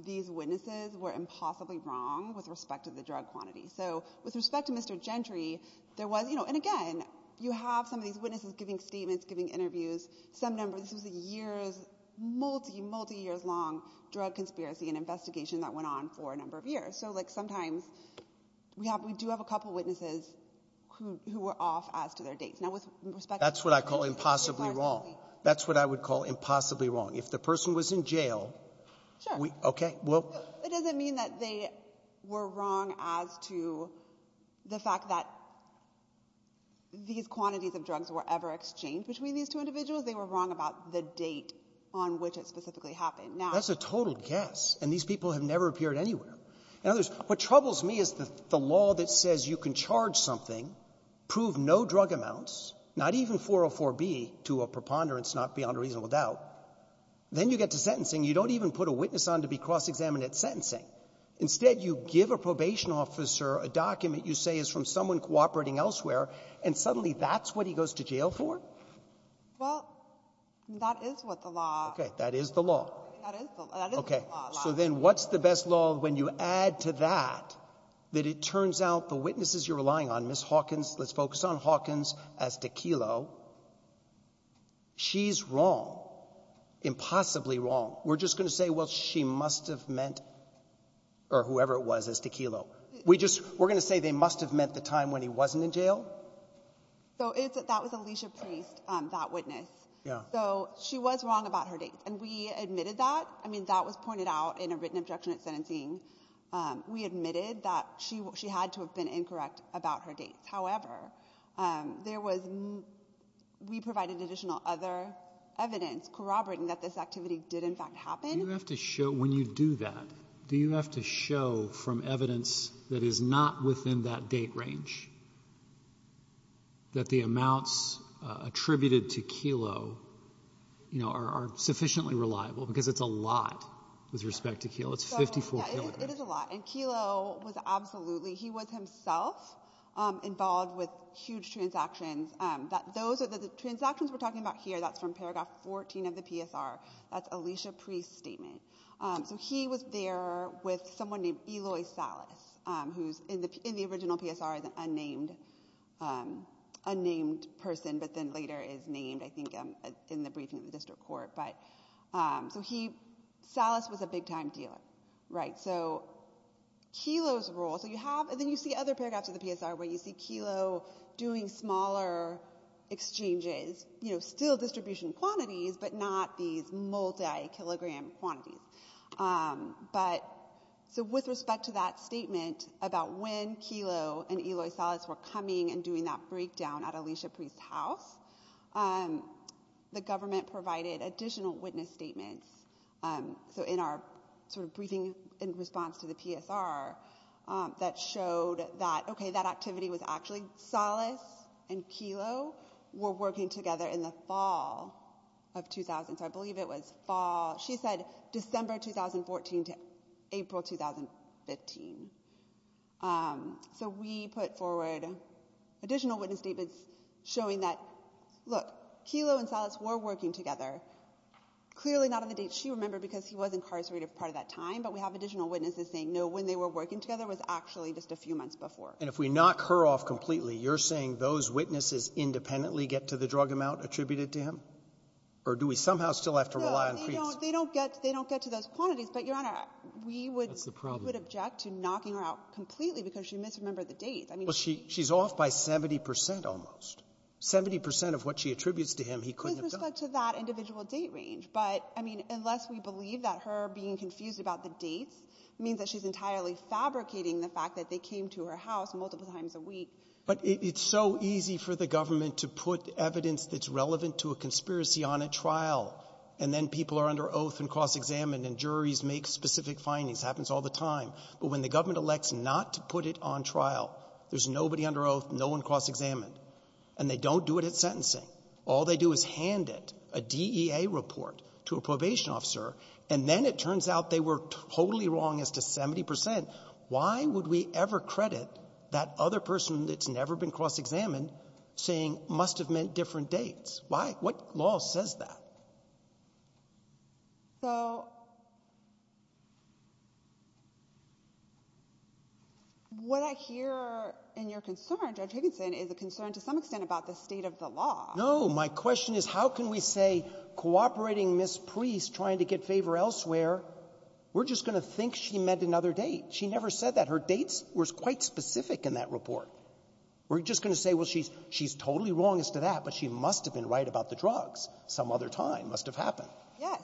these witnesses were impossibly wrong with respect to the drug quantity. So with respect to Mr. Gentry, there was, and again, you have some of these witnesses giving statements, giving interviews, some numbers. This was a years, multi, multi-years long drug conspiracy and investigation that went on for a number of years. So sometimes we do have a couple of witnesses who were off as to their dates. Now, with respect to Mr. Gentry, it's largely— That's what I call impossibly wrong. That's what I would call impossibly wrong. If the person was in jail— Sure. Okay, well— It doesn't mean that they were wrong as to the fact that these quantities of drugs were ever exchanged between these two individuals. They were wrong about the date on which it specifically happened. Now— That's a total guess, and these people have never appeared anywhere. In other words, what troubles me is the law that says you can charge something, prove no drug amounts, not even 404B, to a preponderance, not beyond a reasonable doubt, then you get to sentencing. You don't even put a witness on to be cross-examined at sentencing. Instead, you give a probation officer a document you say is from someone cooperating elsewhere, and suddenly that's what he goes to jail for? Well, that is what the law— Okay. That is the law. That is the law. Okay. So then what's the best law when you add to that that it turns out the witnesses you're relying on, Ms. Hawkins, let's focus on Hawkins as to Kelo, she's wrong, impossibly wrong. We're just going to say, well, she must have meant, or whoever it was, as to Kelo. We just — we're going to say they must have meant the time when he wasn't in jail? So it's — that was Alicia Priest, that witness. Yeah. So she was wrong about her dates, and we admitted that. I mean, that was pointed out in a written objection at sentencing. We admitted that she had to have been incorrect about her dates. However, there was — we provided additional other evidence corroborating that this activity did, in fact, happen. Do you have to show, when you do that, do you have to show from evidence that is not within that date range that the amounts attributed to Kelo, you know, are sufficiently reliable? Because it's a lot with respect to Kelo. It's 54 kilograms. It is a lot. And Kelo was absolutely — he was himself involved with huge transactions. Those are the transactions we're talking about here. That's from paragraph 14 of the PSR. That's Alicia Priest's statement. So he was there with someone named Eloy Salas, who's — in the original PSR is an unnamed person, but then later is named, I think, in the briefing of the district court. But — so he — Salas was a big-time dealer, right? So Kelo's role — so you have — and then you see other paragraphs of the PSR where you see Kelo doing smaller exchanges, you know, still distribution quantities, but not these multi-kilogram quantities. But — so with respect to that statement about when Kelo and Eloy Salas were coming and doing that breakdown at Alicia Priest's house, the government provided additional witness statements — so in our sort of briefing in response to the PSR — that showed that, okay, that activity was actually — Salas and Kelo were working together in the fall of 2000. So I believe it was fall — she said December 2014 to April 2015. So we put forward additional witness statements showing that, look, Kelo and Salas were working together, clearly not on the date she remembered because he was incarcerated for part of that time, but we have additional witnesses saying, no, when they were working together was actually just a few months before. And if we knock her off completely, you're saying those witnesses independently get to the drug amount attributed to him? Or do we somehow still have to rely on Priest? No, they don't get to those quantities. But, Your Honor, we would — That's the problem. — we would object to knocking her out completely because she misremembered the dates. I mean — Well, she's off by 70 percent almost. Seventy percent of what she attributes to him he couldn't have done. With respect to that individual date range. But, I mean, unless we believe that her being confused about the dates means that she's fabricating the fact that they came to her house multiple times a week. But it's so easy for the government to put evidence that's relevant to a conspiracy on a trial, and then people are under oath and cross-examined, and juries make specific findings. Happens all the time. But when the government elects not to put it on trial, there's nobody under oath, no one cross-examined, and they don't do it at sentencing. All they do is hand it, a DEA report, to a probation officer, and then it turns out they were totally wrong as to 70 percent. Why would we ever credit that other person that's never been cross-examined saying must have meant different dates? Why? What law says that? So what I hear in your concern, Judge Higginson, is a concern to some extent about the state of the law. No. My question is, how can we say cooperating Ms. Priest trying to get favor elsewhere, we're just going to think she meant another date? She never said that. Her dates were quite specific in that report. We're just going to say, well, she's totally wrong as to that, but she must have been right about the drugs. Some other time must have happened. Yes.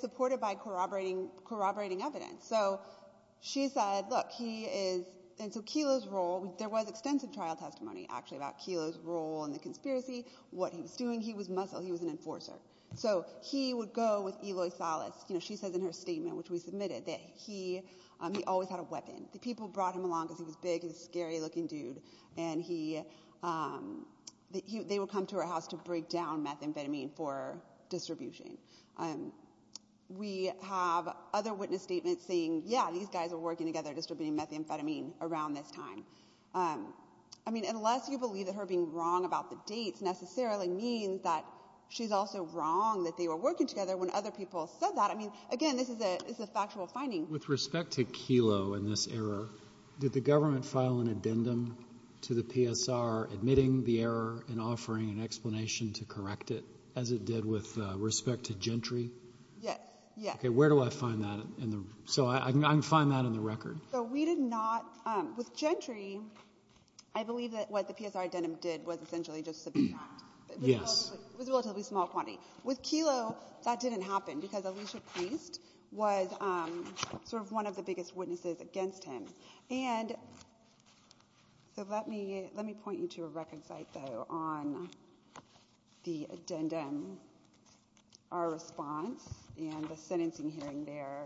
Supported by corroborating evidence. So she said, look, he is — and so Kelo's role — there was extensive trial testimony, actually, about Kelo's role in the conspiracy, what he was doing. He was muscle. He was an enforcer. So he would go with Eloy Salas. You know, she says in her statement, which we submitted, that he always had a weapon. The people brought him along because he was big. He was a scary-looking dude. And he — they would come to her house to break down methamphetamine for distribution. We have other witness statements saying, yeah, these guys were working together distributing methamphetamine around this time. I mean, unless you believe that her being wrong about the dates necessarily means that she's also wrong that they were working together when other people said that. I mean, again, this is a factual finding. With respect to Kelo and this error, did the government file an addendum to the PSR admitting the error and offering an explanation to correct it, as it did with respect to Gentry? Yes. Okay. Where do I find that in the — so I can find that in the record. So we did not — with Gentry, I believe that what the PSR addendum did was essentially just subpoena. Yes. It was a relatively small quantity. With Kelo, that didn't happen because Elisha Priest was sort of one of the biggest witnesses against him. And so let me — let me point you to a record site, though, on the addendum, our response, and the sentencing hearing there.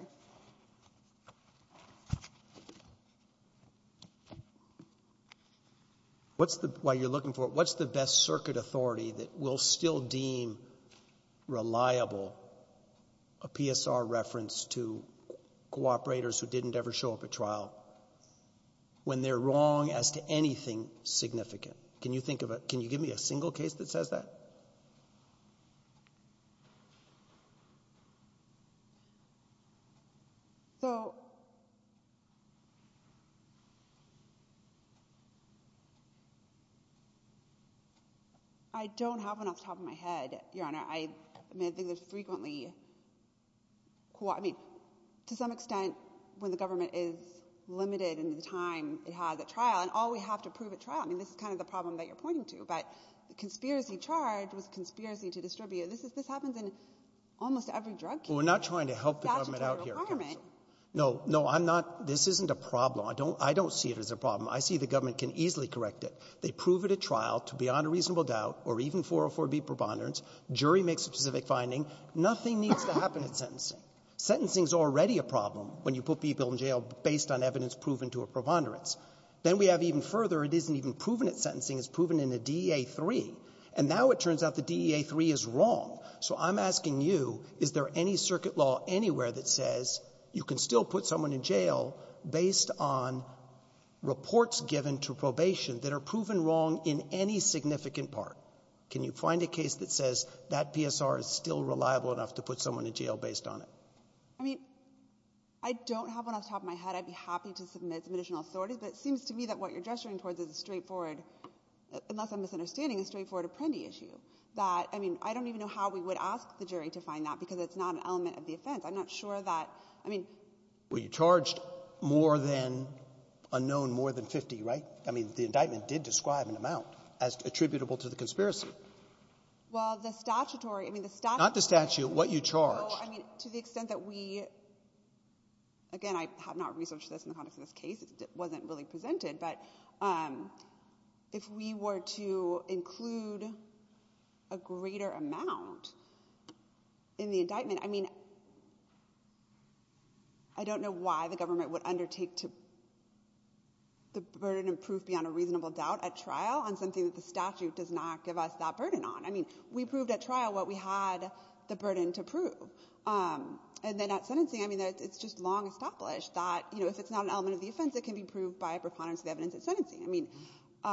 What's the — while you're looking for it, what's the best circuit authority that will still deem reliable a PSR reference to cooperators who didn't ever show up at trial when they're wrong as to anything significant? Can you think of a — can you give me a single case that says that? So, I don't have one off the top of my head, Your Honor. I mean, I think there's frequently — I mean, to some extent, when the government is limited in the time it has at trial, and all we have to prove at trial — I mean, this is kind of the problem that you're pointing to, but the conspiracy charge was conspiracy to distribute. This happens in almost every drug case. Well, we're not trying to help the government out here. Statutory requirement. No, no, I'm not — this isn't a problem. I don't — I don't see it as a problem. I see the government can easily correct it. They prove it at trial to beyond a reasonable doubt, or even 404B preponderance. Jury makes a specific finding. Nothing needs to happen at sentencing. Sentencing's already a problem when you put people in jail based on evidence proven to a preponderance. Then we have even further, it isn't even proven at sentencing. It's proven in a DEA-3. And now it turns out the DEA-3 is wrong. So I'm asking you, is there any circuit law anywhere that says you can still put someone in jail based on reports given to probation that are proven wrong in any significant part? Can you find a case that says that PSR is still reliable enough to put someone in jail based on it? I mean, I don't have one off the top of my head. I'd be happy to submit some additional authorities, but it seems to me that what you're gesturing towards is a straightforward, unless I'm misunderstanding, a straightforward Apprendi issue. That, I mean, I don't even know how we would ask the jury to find that because it's not an element of the offense. I'm not sure that, I mean — Were you charged more than — unknown more than 50, right? I mean, the indictment did describe an amount as attributable to the conspiracy. Well, the statutory — I mean, the statutory — Not the statute. What you charged. No, I mean, to the extent that we — again, I have not researched this in the context of this case. It wasn't really presented, but if we were to include a greater amount in the indictment, I mean, I don't know why the government would undertake to — the burden of proof beyond a reasonable doubt at trial on something that the statute does not give us that burden on. I mean, we proved at trial what we had the burden to prove. And then at sentencing, I mean, it's just long established that, you know, if it's not an element of the offense, it can be proved by a preponderance of evidence at sentencing. I mean —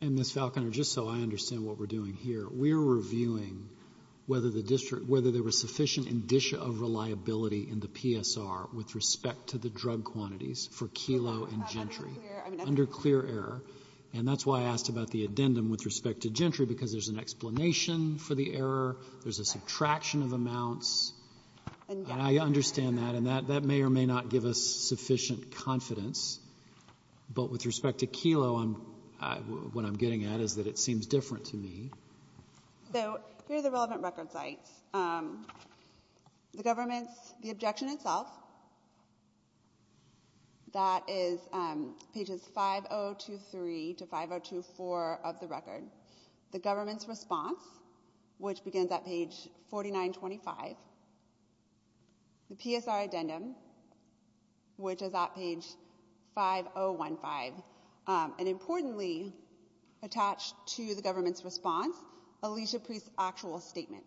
And, Ms. Falconer, just so I understand what we're doing here, we're reviewing whether the district — whether there was sufficient indicia of reliability in the PSR with respect to the drug quantities for Kelo and Gentry. Under clear error. And that's why I asked about the addendum with respect to Gentry, because there's an explanation for the error. There's a subtraction of amounts. And I understand that. And that may or may not give us sufficient confidence. But with respect to Kelo, what I'm getting at is that it seems different to me. So here are the relevant record sites. The government's — the objection itself, that is pages 5023 to 5024 of the record. The government's response, which begins at page 4925. The PSR addendum, which is at page 5015. And importantly, attached to the government's response, Alicia Priest's actual statement.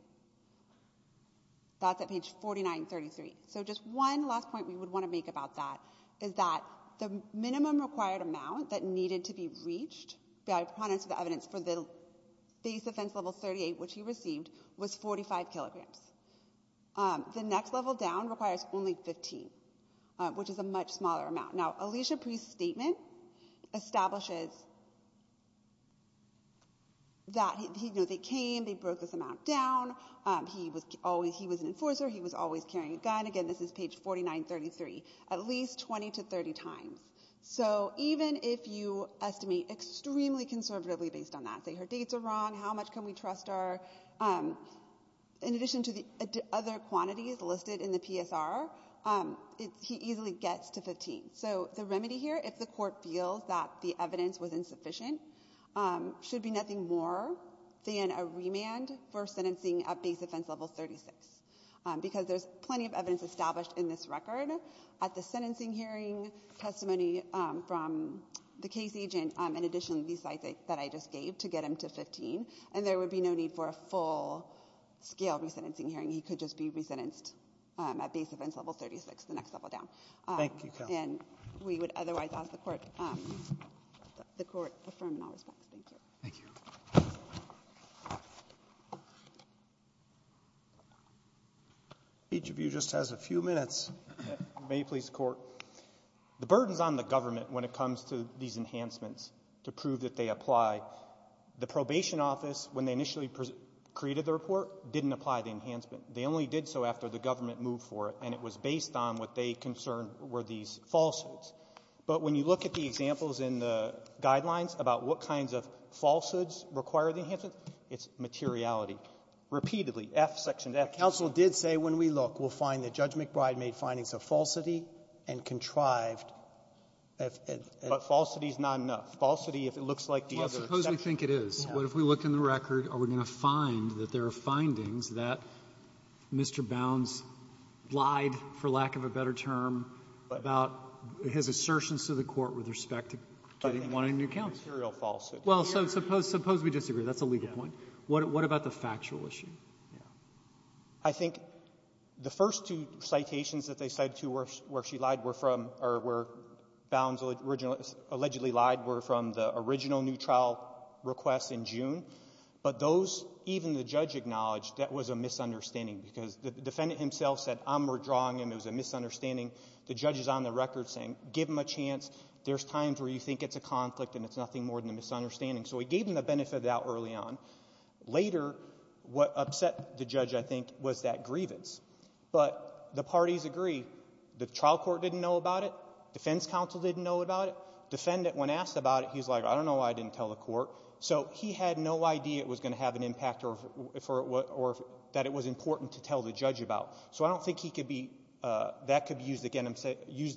That's at page 4933. So just one last point we would want to make about that is that the minimum required amount that needed to be reached by proponents of the evidence for the base offense level 38, which he received, was 45 kilograms. The next level down requires only 15, which is a much smaller amount. Now, Alicia Priest's statement establishes that, you know, they came. They broke this amount down. He was always — he was an enforcer. He was always carrying a gun. Again, this is page 4933. At least 20 to 30 times. So even if you estimate extremely conservatively based on that — say her dates are wrong, how much can we trust our — in addition to the other quantities listed in the PSR, he easily gets to 15. So the remedy here, if the court feels that the evidence was insufficient, should be nothing more than a remand for sentencing at base offense level 36. Because there's plenty of evidence established in this record. At the sentencing hearing, testimony from the case agent, in addition to these slides that I just gave, to get him to 15. And there would be no need for a full-scale resentencing hearing. He could just be resentenced at base offense level 36, the next level down. Thank you. And we would otherwise ask the court — the court affirm in all respects. Thank you. Thank you. Thank you. Each of you just has a few minutes. May it please the court. The burdens on the government when it comes to these enhancements to prove that they apply. The probation office, when they initially created the report, didn't apply the enhancement. They only did so after the government moved for it. And it was based on what they concerned were these falsehoods. But when you look at the examples in the guidelines about what kinds of falsehoods require the enhancement, it's materiality. Repeatedly, F, section F. Counsel did say when we look, we'll find that Judge McBride made findings of falsity and contrived. But falsity is not enough. Falsity, if it looks like the other — Well, suppose we think it is. What if we looked in the record? Are we going to find that there are findings that Mr. Bounds lied, for lack of a better term, about his assertions to the court with respect to getting one in new counts? Material falsity. Well, so suppose we disagree. That's a legal point. What about the factual issue? Yeah. I think the first two citations that they cited to where she lied were from — or where Bounds allegedly lied were from the original new trial request in June. But those, even the judge acknowledged, that was a misunderstanding because the defendant himself said, I'm redrawing him. It was a misunderstanding. The judge is on the record saying, give him a chance. There's times where you think it's a conflict and it's nothing more than a misunderstanding. So he gave him the benefit of the doubt early on. Later, what upset the judge, I think, was that grievance. But the parties agree. The trial court didn't know about it. Defense counsel didn't know about it. Defendant, when asked about it, he's like, I don't know why I didn't tell the court. So he had no idea it was going to have an impact or that it was important to tell the court. I don't think that could be used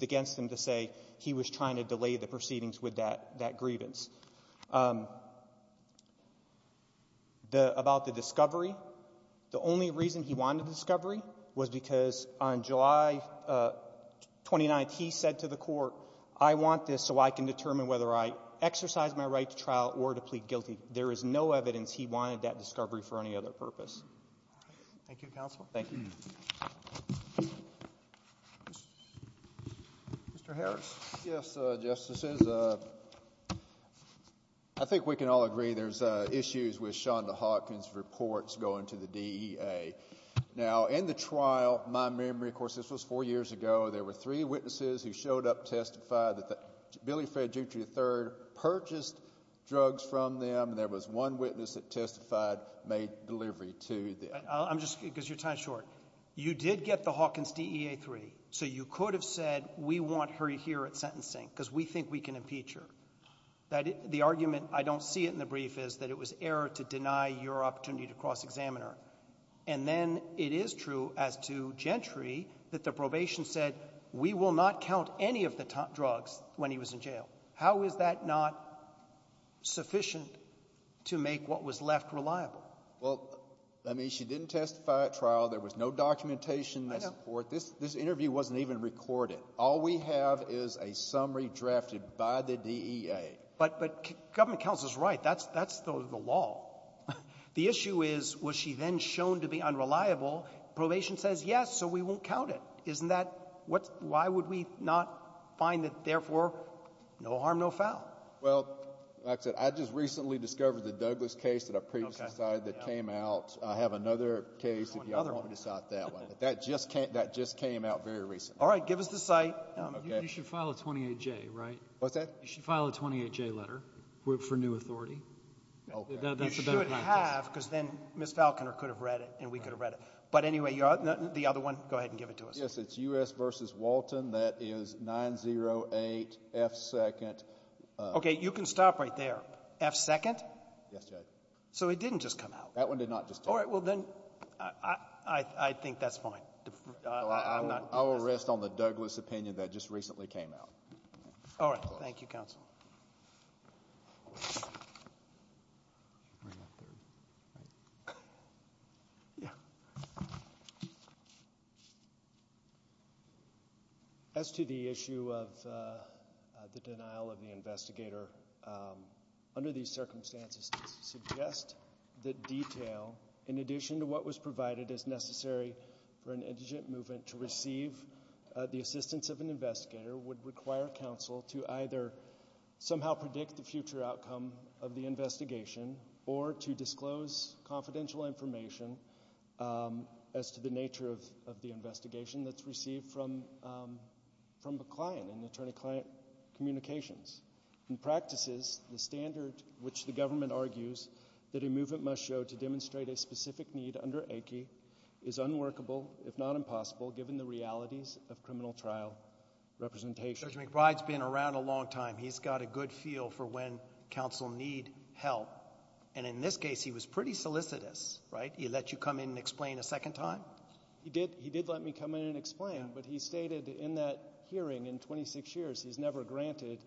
against him to say he was trying to delay the proceedings with that grievance. About the discovery, the only reason he wanted a discovery was because on July 29th, he said to the court, I want this so I can determine whether I exercise my right to trial or to plead guilty. There is no evidence he wanted that discovery for any other purpose. Thank you, counsel. Thank you. Mr. Harris. Yes, Justices. I think we can all agree there's issues with Shonda Hawkins' reports going to the DEA. Now, in the trial, my memory, of course, this was four years ago, there were three witnesses who showed up, testified that Billy Fred Jutri III purchased drugs from them. There was one witness that testified, made delivery to them. I'm just, because your time's short. You did get the Hawkins DEA III, so you could have said, we want her here at sentencing because we think we can impeach her. The argument, I don't see it in the brief, is that it was error to deny your opportunity to cross-examine her. And then it is true as to Gentry that the probation said, we will not count any of the drugs when he was in jail. How is that not sufficient to make what was left reliable? Well, that means she didn't testify at trial. There was no documentation, no support. I know. This interview wasn't even recorded. All we have is a summary drafted by the DEA. But government counsel's right. That's the law. The issue is, was she then shown to be unreliable? Probation says, yes, so we won't count it. Isn't that, why would we not find that, therefore, no harm, no foul? Well, like I said, I just recently discovered the Douglas case that I previously cited that came out. I have another case if y'all want me to cite that one. But that just came out very recently. All right. Give us the site. You should file a 28J, right? What's that? You should file a 28J letter for new authority. OK. You should have, because then Ms. Falconer could have read it, and we could have read it. But anyway, the other one, go ahead and give it to us. Yes, it's U.S. versus Walton. That is 908 F. Second. OK, you can stop right there. F. Second? Yes, Judge. So it didn't just come out? That one did not just come out. All right. Well, then, I think that's fine. I will rest on the Douglas opinion that just recently came out. All right. Thank you, counsel. As to the issue of the denial of the investigator, under these circumstances, suggest that detail, in addition to what was provided as necessary for an indigent movement to receive the assistance of an investigator, would require counsel to either somehow predict the future outcome of the investigation or to disclose confidential information as to the nature of the investigation that's received from a client, an attorney-client communications. In practices, the standard which the government argues that a movement must show to demonstrate a specific need under ACI is unworkable, if not impossible, given the realities of criminal trial representation. Judge McBride's been around a long time. He's got a good feel for when counsel need help. And in this case, he was pretty solicitous, right? He let you come in and explain a second time. He did let me come in and explain. But he stated in that hearing in 26 years, he's never granted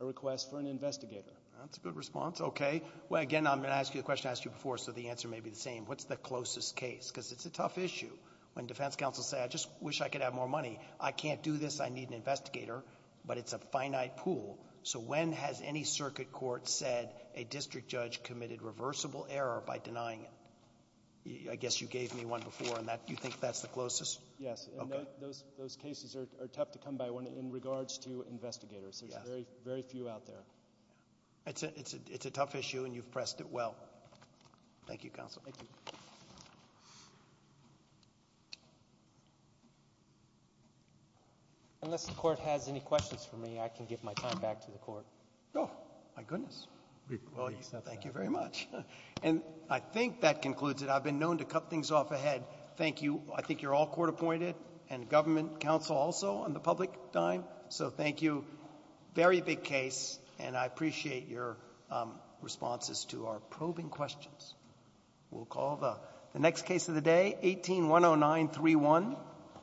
a request for an investigator. That's a good response. Okay. Well, again, I'm going to ask you the question I asked you before, so the answer may be the same. What's the closest case? Because it's a tough issue when defense counsel say, I just wish I could have more money. I can't do this. I need an investigator. But it's a finite pool. So when has any circuit court said a district judge committed reversible error by denying it? I guess you gave me one before, and you think that's the closest? Yes, and those cases are tough to come by when in regards to investigators. There's very few out there. It's a tough issue, and you've pressed it well. Thank you, counsel. Thank you. Unless the court has any questions for me, I can give my time back to the court. Oh, my goodness. Well, thank you very much. And I think that concludes it. I've been known to cut things off ahead. Thank you. I think you're all court appointed and government counsel also on the public dime. So thank you. Very big case, and I appreciate your responses to our probing questions. We'll call the next case of the day, 18-10931.